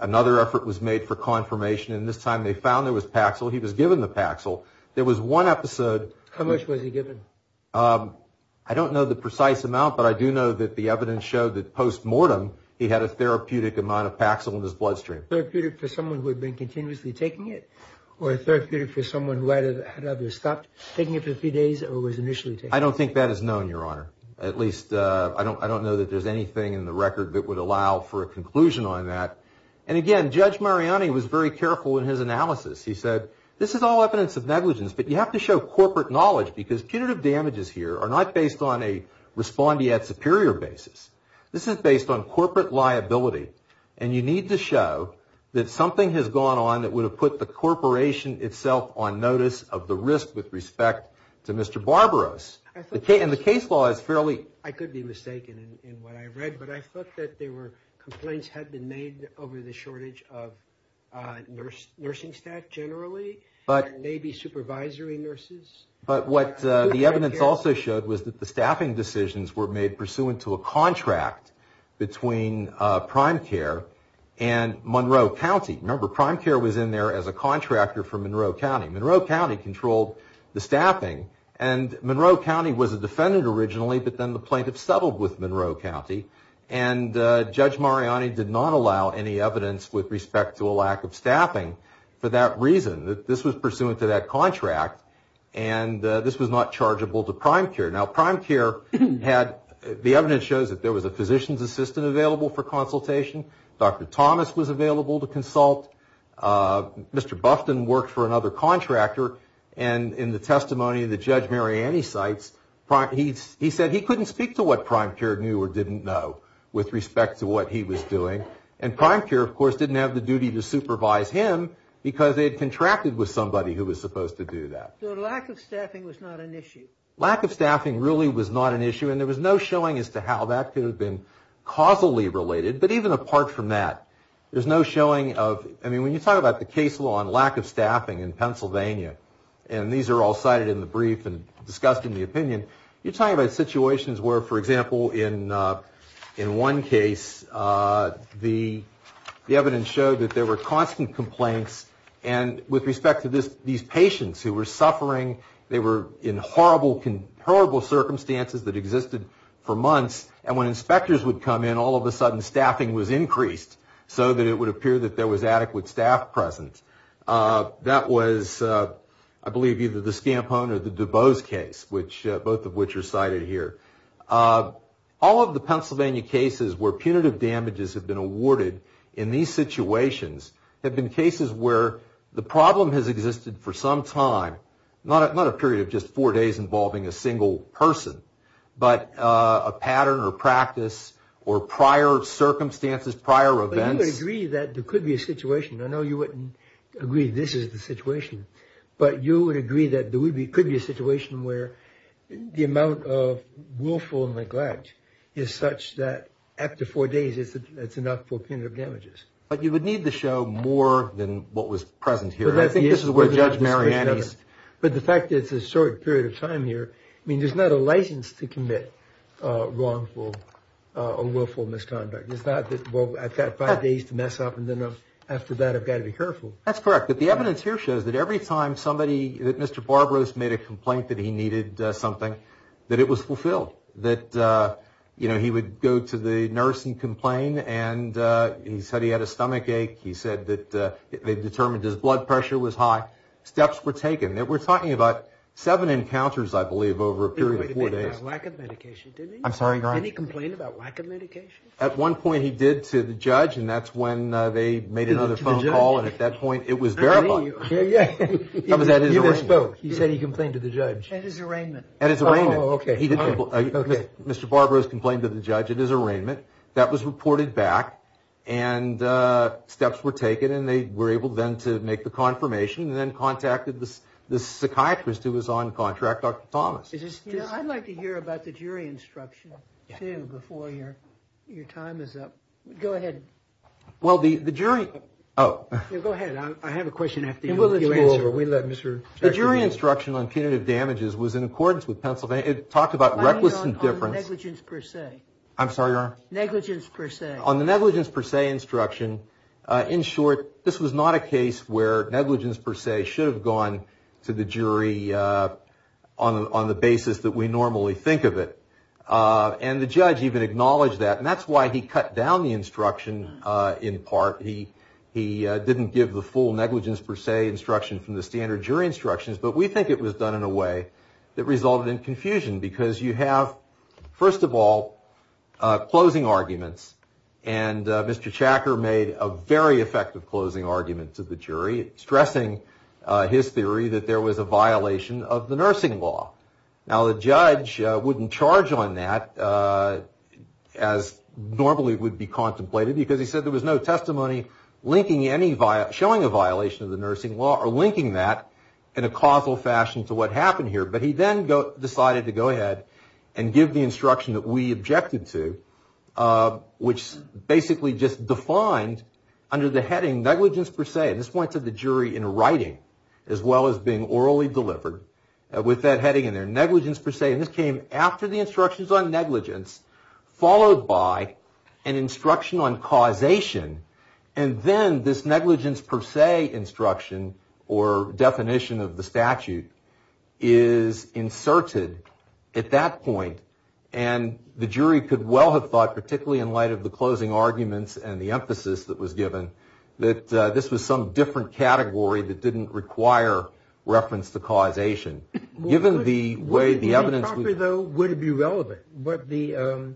Another effort was made for confirmation, and this time they found there was Paxil. He was given the Paxil. There was one episode... But I do know that the evidence showed that post-mortem he had a therapeutic amount of Paxil in his bloodstream. I don't think that is known, Your Honor. At least, I don't know that there's anything in the record that would allow for a conclusion on that. And again, Judge Mariani was very careful in his analysis. He said, But you have to show corporate knowledge because punitive damages here are not based on a respondeat superior basis. This is based on corporate liability, and you need to show that something has gone on that would have put the corporation itself on notice of the risk with respect to Mr. Barbaros. And the case law is fairly... I could be mistaken in what I read, but I thought that there were complaints had been made over the shortage of nursing staff generally, and maybe supervisory nurses. But what the evidence also showed was that the staffing decisions were made pursuant to a contract between PrimeCare and Monroe County. Remember, PrimeCare was in there as a contractor for Monroe County. Monroe County controlled the staffing, and Monroe County was a defendant originally, but then the plaintiff settled with Monroe County. And Judge Mariani did not allow any evidence with respect to a lack of staffing for that contract, and this was not chargeable to PrimeCare. Now, PrimeCare had... the evidence shows that there was a physician's assistant available for consultation. Dr. Thomas was available to consult. Mr. Bufton worked for another contractor, and in the testimony that Judge Mariani cites, he said he couldn't speak to what PrimeCare knew or didn't know with respect to what he was doing. And PrimeCare, of course, didn't have the duty to supervise him because they had contracted with somebody who was supposed to do that. So lack of staffing was not an issue? Lack of staffing really was not an issue, and there was no showing as to how that could have been causally related. But even apart from that, there's no showing of... I mean, when you talk about the case law on lack of staffing in Pennsylvania, and these are all cited in the brief and discussed in the opinion, you're talking about situations where, for example, in one case, the patients who were suffering, they were in horrible circumstances that existed for months, and when inspectors would come in, all of a sudden staffing was increased so that it would appear that there was adequate staff present. That was, I believe, either the Scampone or the DuBose case, both of which are cited here. All of the Pennsylvania cases where punitive damages have been there's been a lack of staffing. It's a situation where the problem has existed for some time, not a period of just four days involving a single person, but a pattern or practice or prior circumstances, prior events. But you would agree that there could be a situation. I know you wouldn't agree this is the situation, but you would agree that there could be a situation where the amount of willful neglect is such that after four days, it's enough for punitive damages. But you would need the show more than what was present here. But the fact that it's a short period of time here, I mean, there's not a license to commit wrongful or willful misconduct. It's not that, well, I've got five days to mess up, and then after that, I've got to be careful. That's correct, but the evidence here shows that every time somebody, that Mr. Barbaros made a complaint that he needed something, that it was fulfilled. That he would go to the nurse and complain, and he said he had a stomach ache. He said that they determined his blood pressure was high. Steps were taken. We're talking about seven encounters, I believe, over a period of four days. He complained about lack of medication, didn't he? Did he complain about lack of medication? At one point, he did to the judge, and that's when they made another phone call, and at that point, it was verified. He said he complained to the judge. At his arraignment. Mr. Barbaros complained to the judge at his arraignment. That was reported back, and steps were taken, and they were able then to make the confirmation, and then contacted the psychiatrist who was on contract, Dr. Thomas. I'd like to hear about the jury instruction, too, before your time is up. Go ahead. Go ahead. I have a question after you answer. The jury instruction on punitive damages was in accordance with Pennsylvania. It talked about reckless indifference. Negligence per se. On the negligence per se instruction, in short, this was not a case where negligence per se should have gone to the jury on the basis that we normally think of it, and the judge even acknowledged that, and that's why he cut down the instruction in part. He didn't give the full negligence per se instruction from the standard jury instructions, but we think it was done in a way that resulted in confusion because you have, first of all, closing arguments, and Mr. Chacker made a very effective closing argument to the jury, stressing his theory that there was a violation of the nursing law. Now, the judge wouldn't charge on that as normally would be contemplated because he said there was no testimony showing a violation of the nursing law or linking that in a causal fashion to what happened here, but he then decided to go ahead and give the instruction that we objected to, which basically just defined under the heading negligence per se. This went to the jury in writing as well as being orally delivered with that heading in there, negligence per se, and this came after the instructions on negligence, followed by an instruction on causation, and then this negligence per se instruction or definition of the statute is inserted at that point, and the jury could well have thought, particularly in light of the closing arguments and the emphasis that was given, that this was some different category that didn't require reference to causation. Given the way the evidence... Would it be relevant what the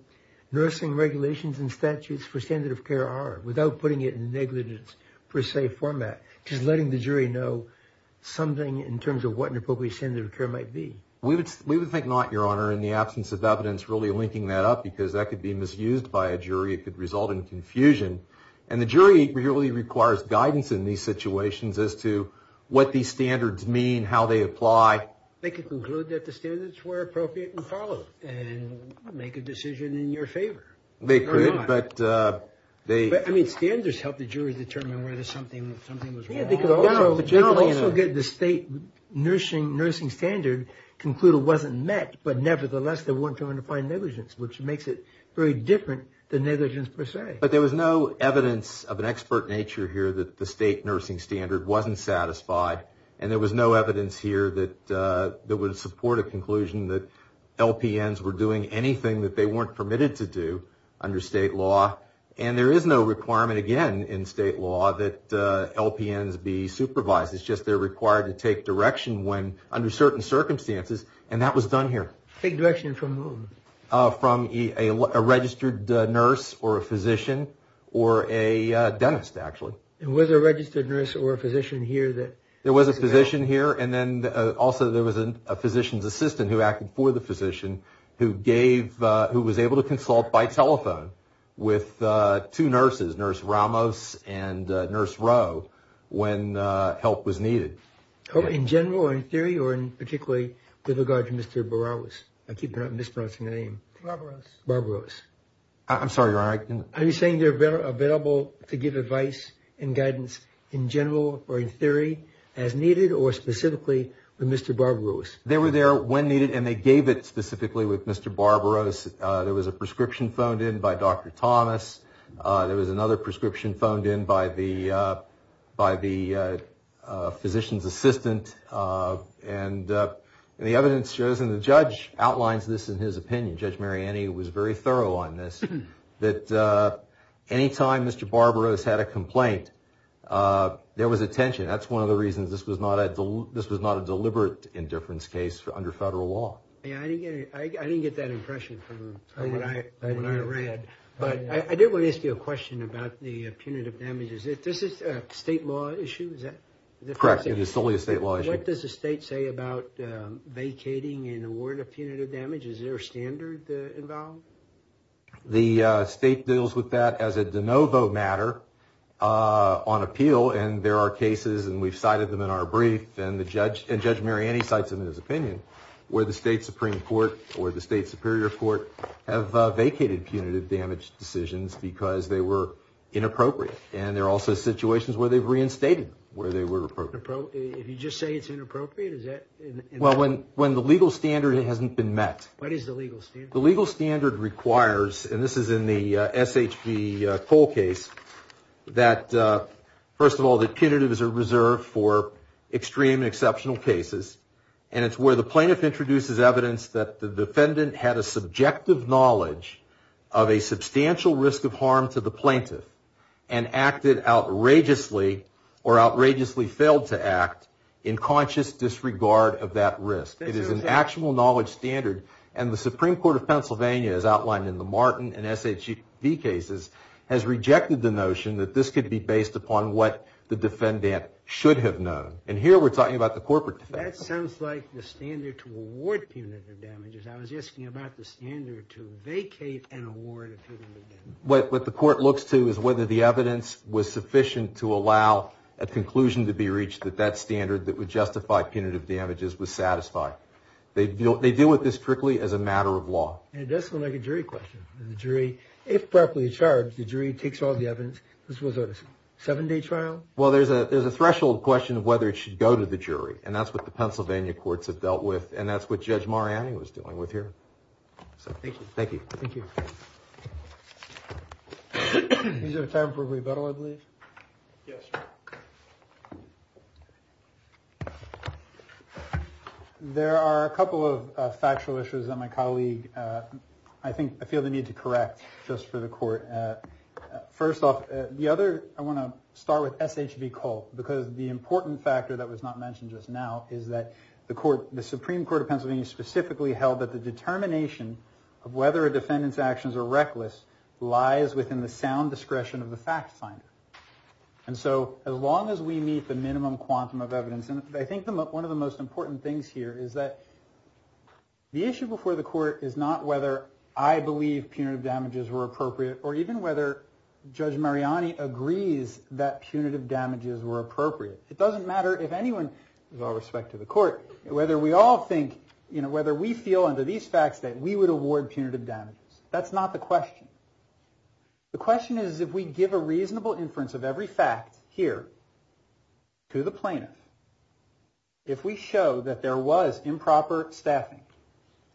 nursing regulations and statutes for standard of care are without putting it in negligence per se format, just letting the jury know something in terms of what an appropriate standard of care might be? We would think not, Your Honor, in the absence of evidence really linking that up because that could be misused by a jury. It could result in confusion, and the jury really requires guidance in these situations as to what these standards mean, how they apply. They could conclude that the standards were appropriate and followed and make a decision in your favor. They could, but... Standards help the jury determine whether something was wrong. They could also get the state nursing standard conclude it wasn't met, but nevertheless they weren't trying to find negligence, which makes it very different than negligence per se. But there was no evidence of an expert nature here that the state nursing standard wasn't satisfied, and there was no evidence here that would support a conclusion that LPNs were doing anything that they weren't permitted to do under state law. And there is no requirement, again, in state law that LPNs be supervised. It's just they're required to take direction under certain circumstances, and that was done here. Take direction from whom? From a registered nurse or a physician or a dentist, actually. And was there a registered nurse or a physician here that... There was a physician here, and then also there was a physician's assistant who acted for the physician who was able to consult by telephone with two nurses, Nurse Ramos and Nurse Rowe, when help was needed. Oh, in general or in theory or particularly with regard to Mr. Barawos? I keep mispronouncing the name. Barbaros. I'm sorry, Your Honor. Are you saying they're available to give advice and guidance in general or in theory as needed or specifically with Mr. Barbaros? They were there when needed, and they gave it specifically with Mr. Barbaros. There was a prescription phoned in by Dr. Thomas. There was another prescription phoned in by the physician's assistant, and the evidence shows, and the judge outlines this in his opinion, Judge Mariani was very thorough on this, that any time Mr. Barbaros had a complaint, there was a tension. That's one of the reasons this was not a deliberate indifference case under federal law. I didn't get that impression from what I read, but I did want to ask you a question about the punitive damages. Is this a state law issue? Correct, it is solely a state law issue. What does the state say about vacating an award of punitive damages? Is there a standard involved? The state deals with that as a de novo matter on appeal, and there are cases, and we've cited them in our brief, and Judge Mariani cites them in his opinion, where the state Supreme Court or the state Superior Court have vacated punitive damage decisions because they were inappropriate, and there are also situations where they've reinstated where they were appropriate. If you just say it's inappropriate, is that... Well, when the legal standard hasn't been met... What is the legal standard? The legal standard requires, and this is in the SHV Cole case, that, first of all, that punitives are reserved for extreme and exceptional cases, and it's where the plaintiff introduces evidence that the defendant had a subjective knowledge of a substantial risk of harm to the plaintiff and acted outrageously or outrageously failed to act in conscious disregard of that risk. It is an actual knowledge standard, and the Supreme Court of Pennsylvania, as outlined in the Martin and SHV cases, has rejected the notion that this could be based upon what the defendant should have known. And here we're talking about the corporate defense. That sounds like the standard to award punitive damages. I was asking about the standard to vacate and award punitive damages. What the court looks to is whether the evidence was sufficient to allow a conclusion to be reached that that standard that would justify punitive damages was satisfied. They deal with this strictly as a matter of law. It does sound like a jury question. If properly charged, the jury takes all the evidence. This was a 7-day trial? Well, there's a threshold question of whether it should go to the jury, and that's what the Pennsylvania courts have dealt with, and that's what Judge Mariani was dealing with here. Thank you. There are a couple of factual issues that my colleague... ...need to correct, just for the court. First off, I want to start with SHV Culp, because the important factor that was not mentioned just now is that the Supreme Court of Pennsylvania specifically held that the determination of whether a defendant's actions are reckless lies within the sound discretion of the fact finder. And so, as long as we meet the minimum quantum of evidence, and I think one of the most important things here is that the issue before the court is not whether I believe punitive damages were appropriate or even whether Judge Mariani agrees that punitive damages were appropriate. It doesn't matter if anyone, with all respect to the court, whether we all think, whether we feel under these facts that we would award punitive damages. That's not the question. The question is if we give a reasonable inference of every fact here to the plaintiff, if we show that there was improper staffing,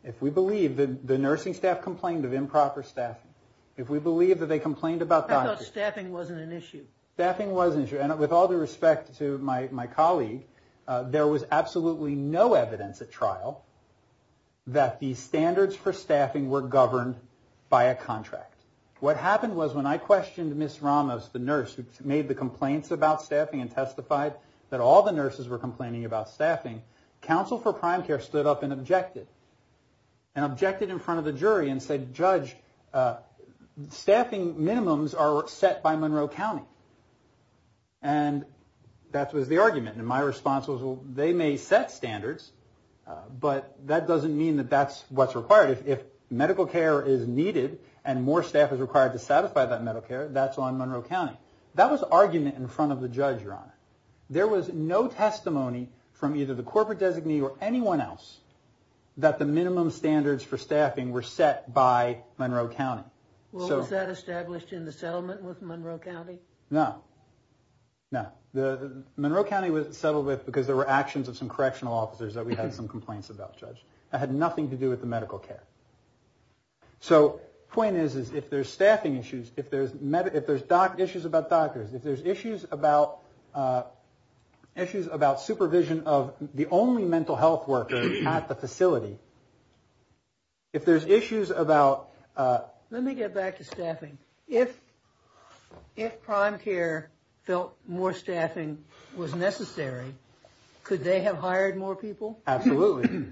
if we believe that the nursing staff complained of improper staffing, if we believe that they complained about doctors... I thought staffing wasn't an issue. Staffing was an issue, and with all due respect to my colleague, there was absolutely no evidence at trial that the standards for staffing were governed by a contract. What happened was when I questioned Ms. Ramos, the nurse, who made the complaints about staffing and testified that all the nurses were complaining about staffing, counsel for prime care stood up and objected. And objected in front of the jury and said, Judge, staffing minimums are set by Monroe County. And that was the argument. And my response was, well, they may set standards, but that doesn't mean that that's what's required. If medical care is needed and more staff is required to satisfy that medical care, That was argument in front of the judge, Your Honor. There was no testimony from either the corporate designee or anyone else that the minimum standards for staffing were set by Monroe County. Was that established in the settlement with Monroe County? No. Monroe County was settled with because there were actions of some correctional officers that we had some complaints about, Judge. That had nothing to do with the medical care. So the point is, if there's staffing issues, if there's issues about doctors, if there's issues about supervision of the only mental health worker at the facility, if there's issues about... Let me get back to staffing. If prime care felt more staffing was necessary, could they have hired more people? Absolutely.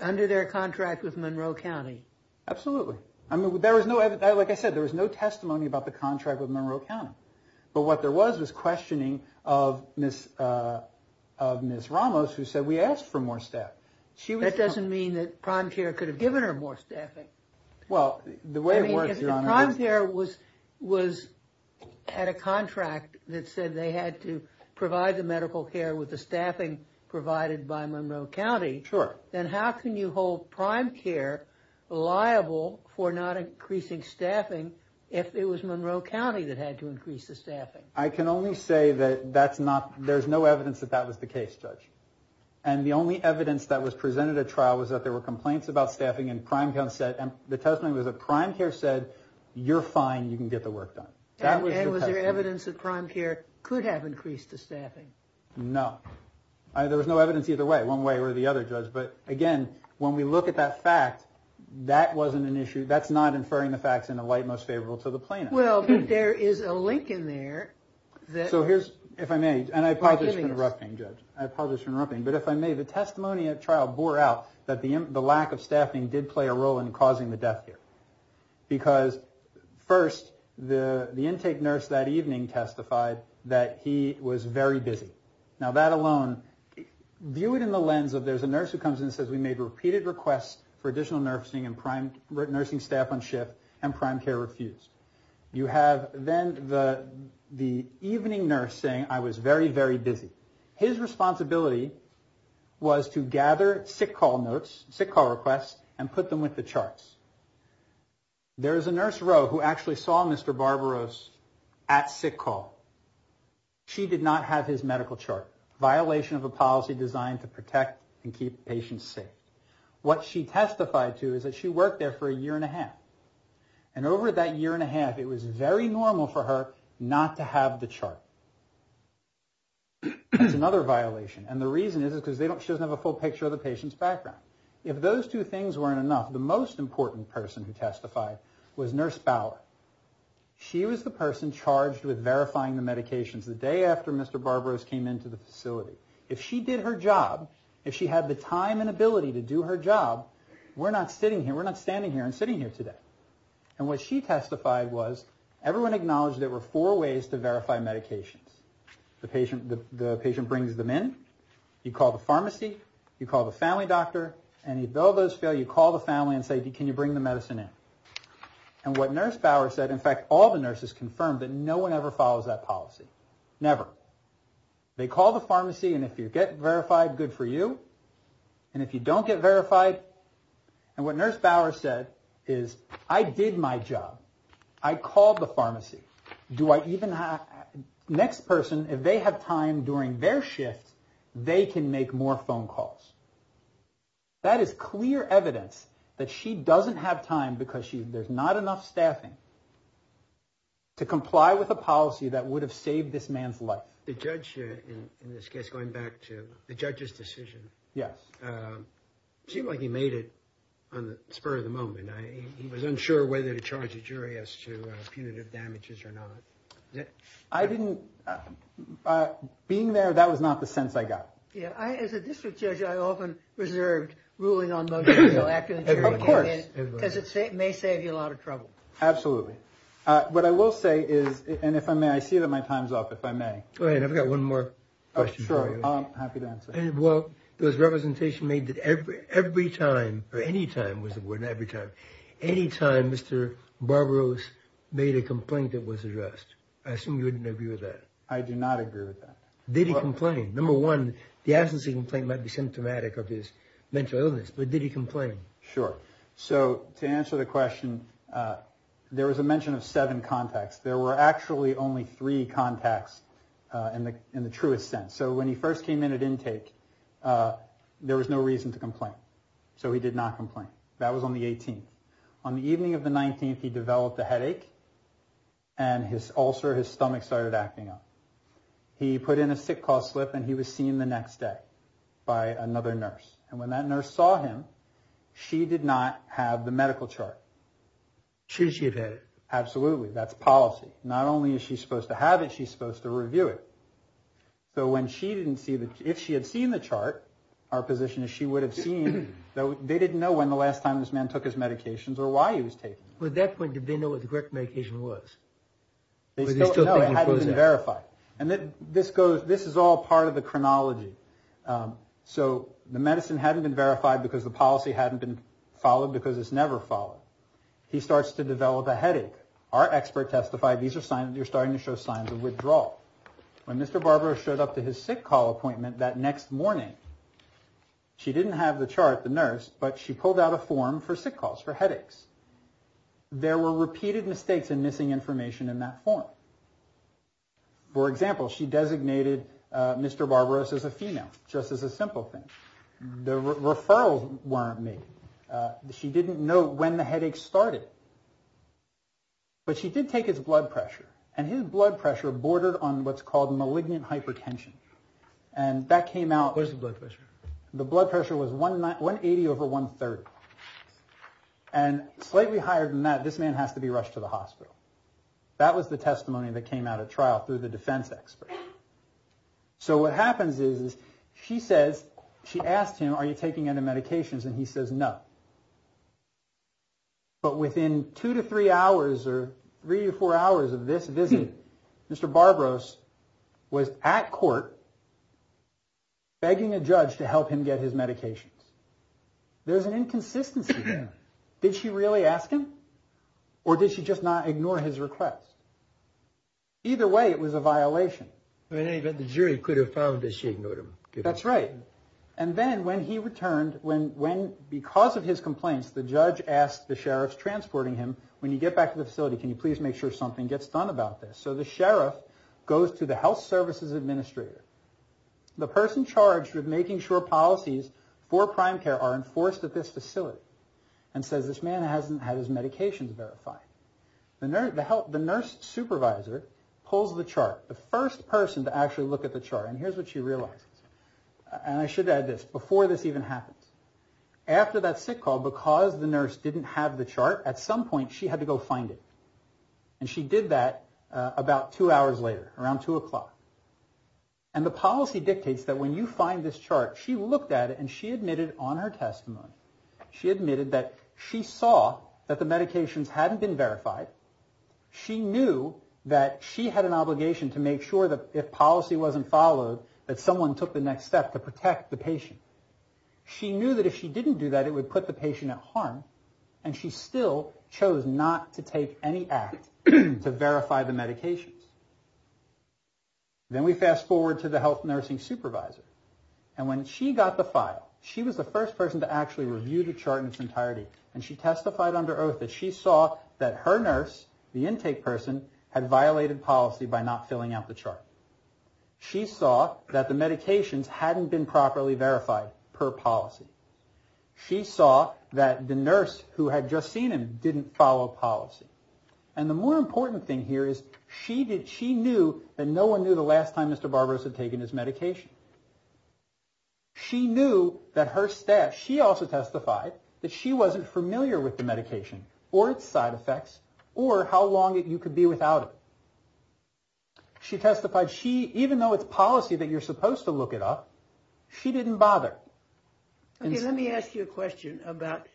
Under their contract with Monroe County? Absolutely. Like I said, there was no testimony about the contract with Monroe County. But what there was was questioning of Ms. Ramos who said we asked for more staff. That doesn't mean that prime care could have given her more staffing. Well, the way it works, Your Honor... If prime care had a contract that said they had to provide the medical care with the staffing provided by Monroe County, then how can you hold prime care liable for not increasing staffing if it was Monroe County that had to increase the staffing? I can only say that there's no evidence that that was the case, Judge. And the only evidence that was presented at trial was that there were complaints about staffing and the testimony was that prime care said, you're fine, you can get the work done. And was there evidence that prime care could have increased the staffing? No. There was no evidence either way, one way or the other, Judge. But again, when we look at that fact, that wasn't an issue. That's not inferring the facts in the light most favorable to the plaintiff. Well, but there is a link in there... If I may, and I apologize for interrupting, Judge. But if I may, the testimony at trial bore out that the lack of staffing did play a role in causing the death here. Because first, the intake nurse that evening testified that he was very busy. Now, that alone, view it in the lens of there's a nurse who comes in and says, we made repeated requests for additional nursing and prime nursing staff on shift and prime care refused. You have then the evening nurse saying, I was very, very busy. His responsibility was to gather sick call notes, sick call requests, and put them with the charts. There is a nurse, Roe, who actually saw Mr. Barbaros at sick call. She did not have his medical chart. Violation of a policy designed to protect and keep patients safe. What she testified to is that she worked there for a year and a half. And over that year and a half, it was very normal for her not to have the chart. That's another violation. And the reason is because she doesn't have a full picture of the patient's background. If those two things weren't enough, the most important person who testified was Nurse Bauer. She was the person charged with verifying the medications the day after Mr. Barbaros came into the facility. If she did her job, if she had the time and ability to do her job, we're not standing here and sitting here today. And what she testified was, everyone acknowledged there were four ways to verify medications. The patient brings them in, you call the pharmacy, you call the family doctor, and even though those fail, you call the family and say, can you bring the medicine in? And what Nurse Bauer said, in fact, all the nurses confirmed that no one ever follows that policy. Never. They call the pharmacy and if you get verified, good for you. And if you don't get verified, and what Nurse Bauer said is, I did my job. I called the pharmacy. Next person, if they have time during their shift, they can make more phone calls. That is clear evidence that she doesn't have time because there's not enough staffing to comply with a policy that would have saved this man's life. The judge, in this case, going back to the judge's decision. Yes. It seemed like he made it on the spur of the moment. He was unsure whether to charge a jury as to punitive damages or not. I didn't... Being there, that was not the sense I got. Yeah, as a district judge, I often reserved ruling on motor vehicle accidents. Of course. Because it may save you a lot of trouble. Absolutely. What I will say is, and if I may, I see that my time's up, if I may. Go ahead, I've got one more question for you. Sure, I'm happy to answer. Well, there was representation made that every time, or any time was the word, not every time, any time Mr. Barbaros made a complaint that was addressed. I assume you wouldn't agree with that. I do not agree with that. Did he complain? Number one, the absence of a complaint might be symptomatic of his mental illness. But did he complain? Sure. So, to answer the question, there was a mention of seven contacts. There were actually only three contacts in the truest sense. So when he first came in at intake, there was no reason to complain. So he did not complain. That was on the 18th. On the evening of the 19th, he developed a headache and his ulcer, his stomach started acting up. He put in a sick call slip and he was seen the next day by another nurse. And when that nurse saw him, she did not have the medical chart. Should she have had it? Absolutely. That's policy. Not only is she supposed to have it, she's supposed to review it. So when she didn't see the, if she had seen the chart, our position is she would have seen, they didn't know when the last time this man took his medications or why he was taking them. At that point, did they know what the correct medication was? No, it hadn't been verified. This is all part of the chronology. So the medicine hadn't been verified because the policy hadn't been followed because it's never followed. He starts to develop a headache. Our expert testified these are signs, you're starting to show signs of withdrawal. When Mr. Barbaros showed up to his sick call appointment that next morning, she didn't have the chart, the nurse, but she pulled out a form for sick calls, for headaches. There were repeated mistakes and missing information in that form. For example, she designated Mr. Barbaros as a female, just as a simple thing. The referrals weren't made. She didn't know when the headache started. But she did take his blood pressure and his blood pressure bordered on what's called malignant hypertension. Where's the blood pressure? The blood pressure was 180 over 130. And slightly higher than that, this man has to be rushed to the hospital. That was the testimony that came out at trial through the defense expert. So what happens is, she asked him, are you taking any medications? And he says no. But within two to three hours, or three or four hours of this visit, Mr. Barbaros was at court, begging a judge to help him get his medications. There's an inconsistency there. Did she really ask him? Or did she just not ignore his request? Either way, it was a violation. That's right. And then when he returned, because of his complaints, the judge asked the sheriffs transporting him, when you get back to the facility, can you please make sure something gets done about this? So the sheriff goes to the health services administrator. The person charged with making sure policies for prime care are enforced at this facility. And says this man hasn't had his medications verified. The nurse supervisor pulls the chart. The first person to actually look at the chart. And here's what she realizes. And I should add this. Before this even happens. After that sick call, because the nurse didn't have the chart, at some point she had to go find it. And she did that about two hours later. Around two o'clock. And the policy dictates that when you find this chart, she looked at it and she admitted on her testimony. She admitted that she saw that the medications hadn't been verified. She knew that she had an obligation to make sure that if policy wasn't followed, that someone took the next step to protect the patient. She knew that if she didn't do that, it would put the patient at harm. And she still chose not to take any act to verify the medications. Then we fast forward to the health nursing supervisor. And when she got the file, she was the first person to actually review the chart in its entirety. And she testified under oath that she saw that her nurse, the intake person, had violated policy by not filling out the chart. She saw that the medications hadn't been properly verified per policy. She saw that the nurse who had just seen him didn't follow policy. And the more important thing here is she knew that no one knew the last time Mr. Barberos had taken his medication. She knew that her staff, she also testified, that she wasn't familiar with the medication or its side effects or how long you could be without it. She testified she, even though it's policy that you're supposed to look it up, she didn't bother. Okay, let me ask you a question about,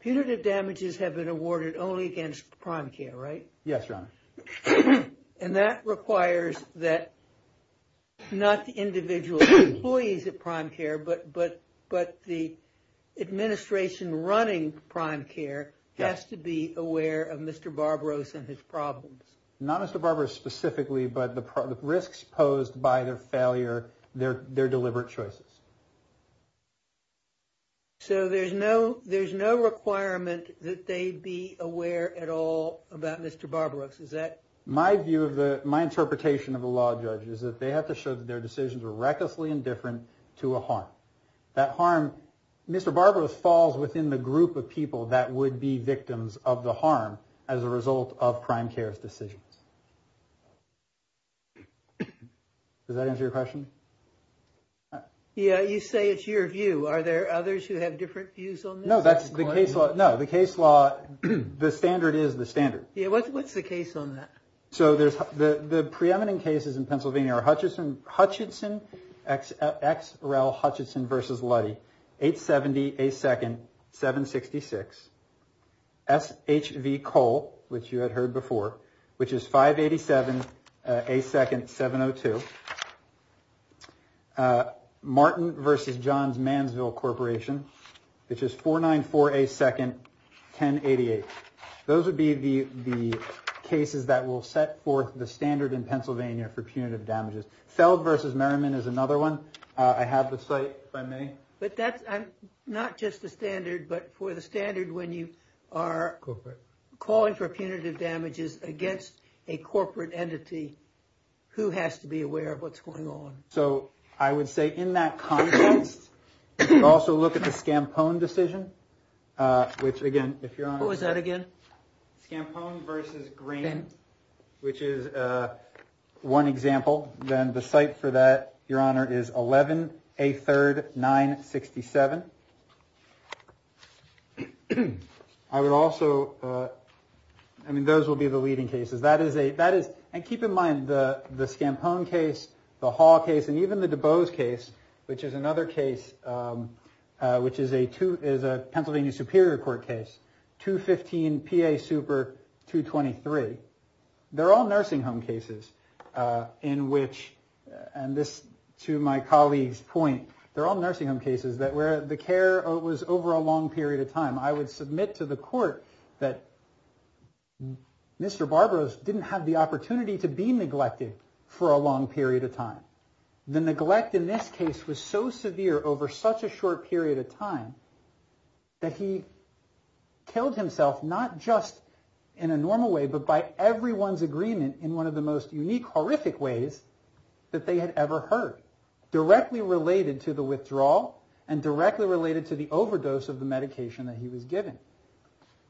punitive damages have been awarded only against prime care, right? Yes, Your Honor. And that requires that not the individual employees at prime care, but the administration running prime care has to be aware of Mr. Barberos and his problems. Not Mr. Barberos specifically, but the risks posed by their failure, their deliberate choices. So there's no requirement that they be aware at all about Mr. Barberos, is that... My view of the, my interpretation of the law judge is that they have to show that their decisions are recklessly indifferent to a harm. That harm, Mr. Barberos falls within the group of people that would be victims of the harm as a result of prime care's decisions. Does that answer your question? Yeah, you say it's your view. Are there others who have different views on this? No, the case law, the standard is the standard. Yeah, what's the case on that? So the preeminent cases in Pennsylvania are Hutchinson, X. Rel. Hutchinson v. Luddy, 870A2nd 766, SHV Cole, which you had heard before, which is 587A2nd 702, Martin v. Johns Mansville Corporation, which is 494A2nd 1088. Those would be the cases that will set forth the standard in Pennsylvania for punitive damages. Feld v. Merriman is another one. I have the site, if I may. But that's not just the standard, but for the standard when you are calling for punitive damages against a corporate entity, who has to be aware of what's going on? So I would say in that context, I would also look at the Scampone decision. Who was that again? Scampone v. Green, which is one example. The site for that, Your Honor, is 11A3rd 967. Those would be the leading cases. And keep in mind, the Scampone case, the Hall case, and even the DuBose case, which is another case, which is a Pennsylvania Superior Court case, 215PA Super 223. They're all nursing home cases. To my colleague's point, they're all nursing home cases where the care was over a long period of time. I would submit to the court that Mr. Barbaros didn't have the opportunity to be neglected for a long period of time. The neglect in this case was so severe over such a short period of time that he killed himself not just in a normal way, but by everyone's agreement in one of the most unique, horrific ways that they had ever heard. Directly related to the withdrawal and directly related to the overdose of the medication that he was given.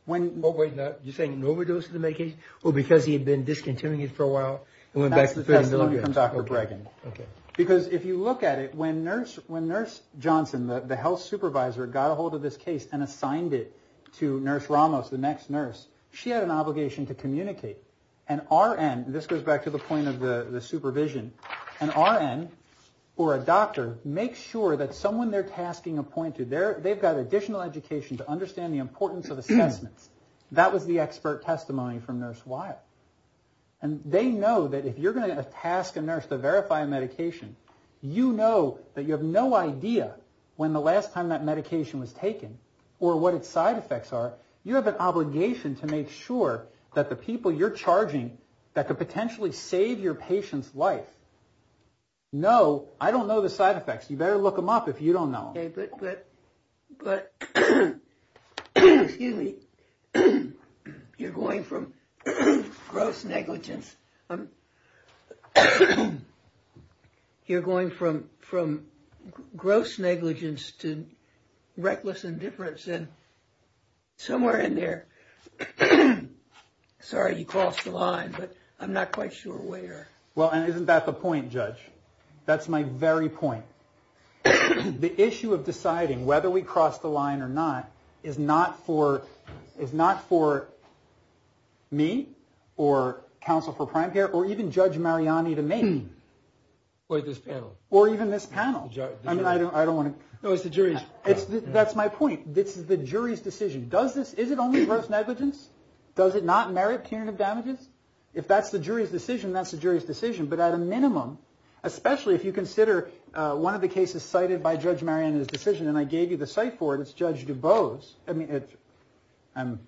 You're saying an overdose of the medication? Or because he had been discontinuing it for a while? That's the testimony from Dr. Bregan. Because if you look at it, when Nurse Johnson, the health supervisor, got a hold of this case and assigned it to Nurse Ramos, the next nurse, she had an obligation to communicate. This goes back to the point of the supervision. An RN or a doctor makes sure that someone they're tasking a point to, they've got additional education to understand the importance of assessments. That was the expert testimony from Nurse Weill. They know that if you're going to task a nurse to verify a medication, you know that you have no idea when the last time that medication was taken or what its side effects are. You have an obligation to make sure that the people you're charging that could potentially save your patient's life know, I don't know the side effects. You better look them up if you don't know them. Excuse me. You're going from gross negligence to reckless indifference. Somewhere in there. Sorry, you crossed the line, but I'm not quite sure where. Well, and isn't that the point, Judge? That's my very point. The issue of deciding whether we cross the line or not is not for me or Counsel for Prime Care or even Judge Mariani to make. Or this panel. Or even this panel. That's my point. It's the jury's decision. Is it only gross negligence? Does it not merit punitive damages? If that's the jury's decision, that's the jury's decision. But at a minimum, especially if you consider one of the cases cited by Judge Mariani's decision and I gave you the cite for it, it's Judge DuBose. I'm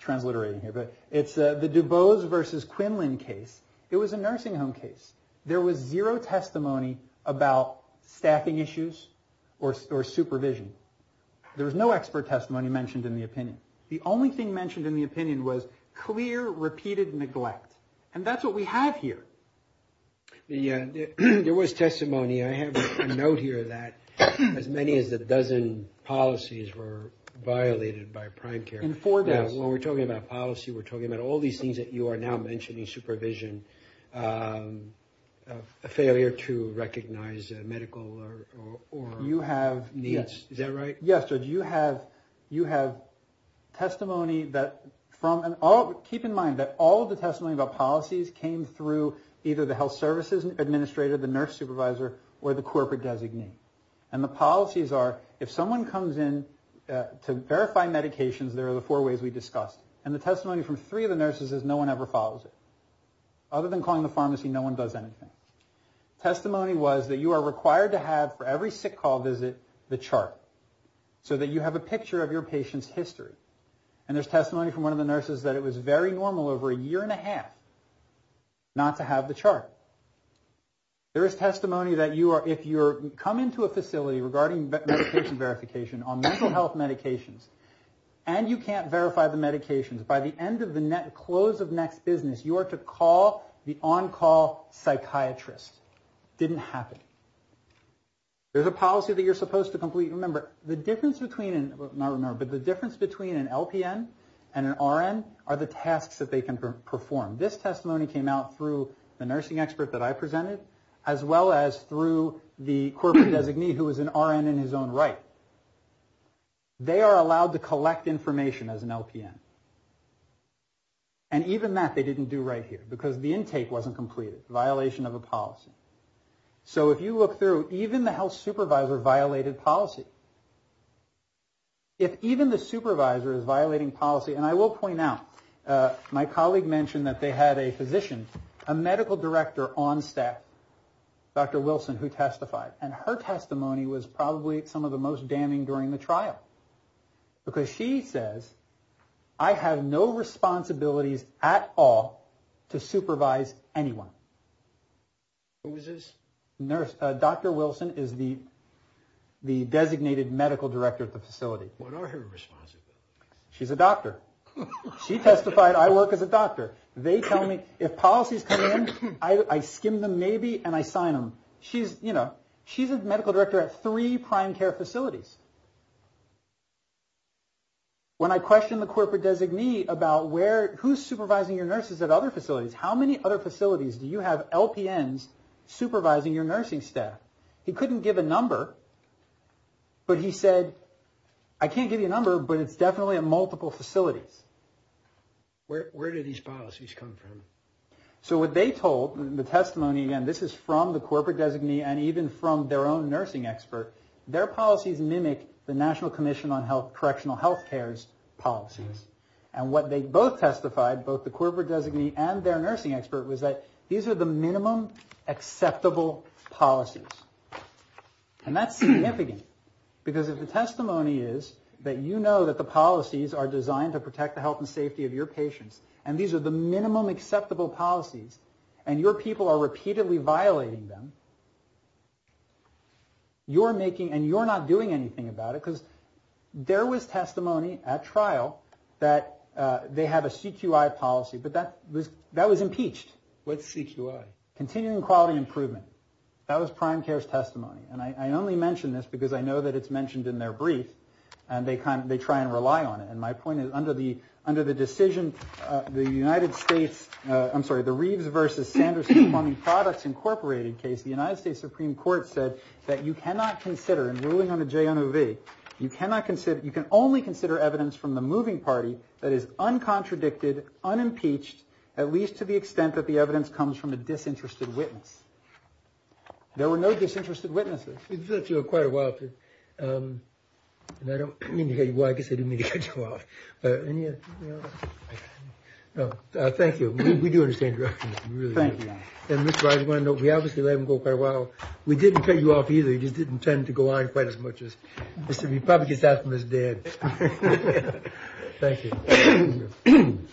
transliterating here. It's the DuBose versus Quinlan case. It was a nursing home case. There was zero testimony about staffing issues or supervision. There was no expert testimony mentioned in the opinion. The only thing mentioned in the opinion was clear, repeated neglect. And that's what we have here. There was testimony. I have a note here that as many as a dozen policies were violated by Prime Care. When we're talking about policy, we're talking about all these things that you are now mentioning, supervision, failure to recognize medical needs. Is that right? Yes, Judge. You have testimony. Keep in mind that all of the testimony about policies came through either the health services administrator, the nurse supervisor or the corporate designee. And the policies are if someone comes in to verify medications, there are the four ways we discussed. And the testimony from three of the nurses is no one ever follows it. Other than calling the pharmacy, no one does anything. Testimony was that you are required to have for every sick call visit the chart so that you have a picture of your patient's history. And there's testimony from one of the nurses that it was very normal over a year and a half not to have the chart. There is testimony that if you come into a facility regarding medication verification on mental health medications and you can't verify the medications, by the end of the net close of next business, you are to call the on-call psychiatrist. Didn't happen. There's a policy that you're supposed to complete. Remember, the difference between an LPN and an RN are the tasks that they can perform. This testimony came out through the nursing expert that I presented as well as through the corporate designee who is an RN in his own right. They are allowed to collect information as an LPN. And even that they didn't do right here because the intake wasn't completed. Violation of a policy. So if you look through, even the health supervisor violated policy. If even the supervisor is violating policy, and I will point out, my colleague mentioned that they had a physician, a medical director on staff, Dr. Wilson, who testified. And her testimony was probably some of the most damning during the trial. Because she says, I have no responsibilities at all to supervise anyone. Who is this? Dr. Wilson is the designated medical director at the facility. What are her responsibilities? She's a doctor. She testified, I work as a doctor. If policies come in, I skim them maybe and I sign them. She's a medical director at three prime care facilities. When I questioned the corporate designee about who's supervising your nurses at other facilities, how many other facilities do you have LPNs supervising your nursing staff? He couldn't give a number. But he said, I can't give you a number, but it's definitely at multiple facilities. Where do these policies come from? So what they told, the testimony again, this is from the corporate designee and even from their own nursing expert, their policies mimic the National Commission on Correctional Health Care's policies. And what they both testified, both the corporate designee and their nursing expert, was that these are the minimum acceptable policies. And that's significant. Because if the testimony is that you know that the policies are designed to protect the health and safety of your patients and these are the minimum acceptable policies and your people are repeatedly violating them, you're making, and you're not doing anything about it because there was testimony at trial that they have a CQI policy, but that was impeached. What's CQI? Continuing Quality Improvement. That was Prime Care's testimony. And I only mention this because I know that it's mentioned in their brief and they try and rely on it. And my point is, under the decision, the Reeves v. Sanderson Funding Products Incorporated case, the United States Supreme Court said that you cannot consider, in ruling on the JNOV, you can only consider evidence from the moving party that is uncontradicted, unimpeached, at least to the extent that the evidence comes from a disinterested witness. There were no disinterested witnesses. We've let you go quite a while. I guess I didn't mean to cut you off. Thank you. We do understand your opinion. We obviously let him go quite a while. We didn't cut you off either. He probably gets that from his dad. Thank you.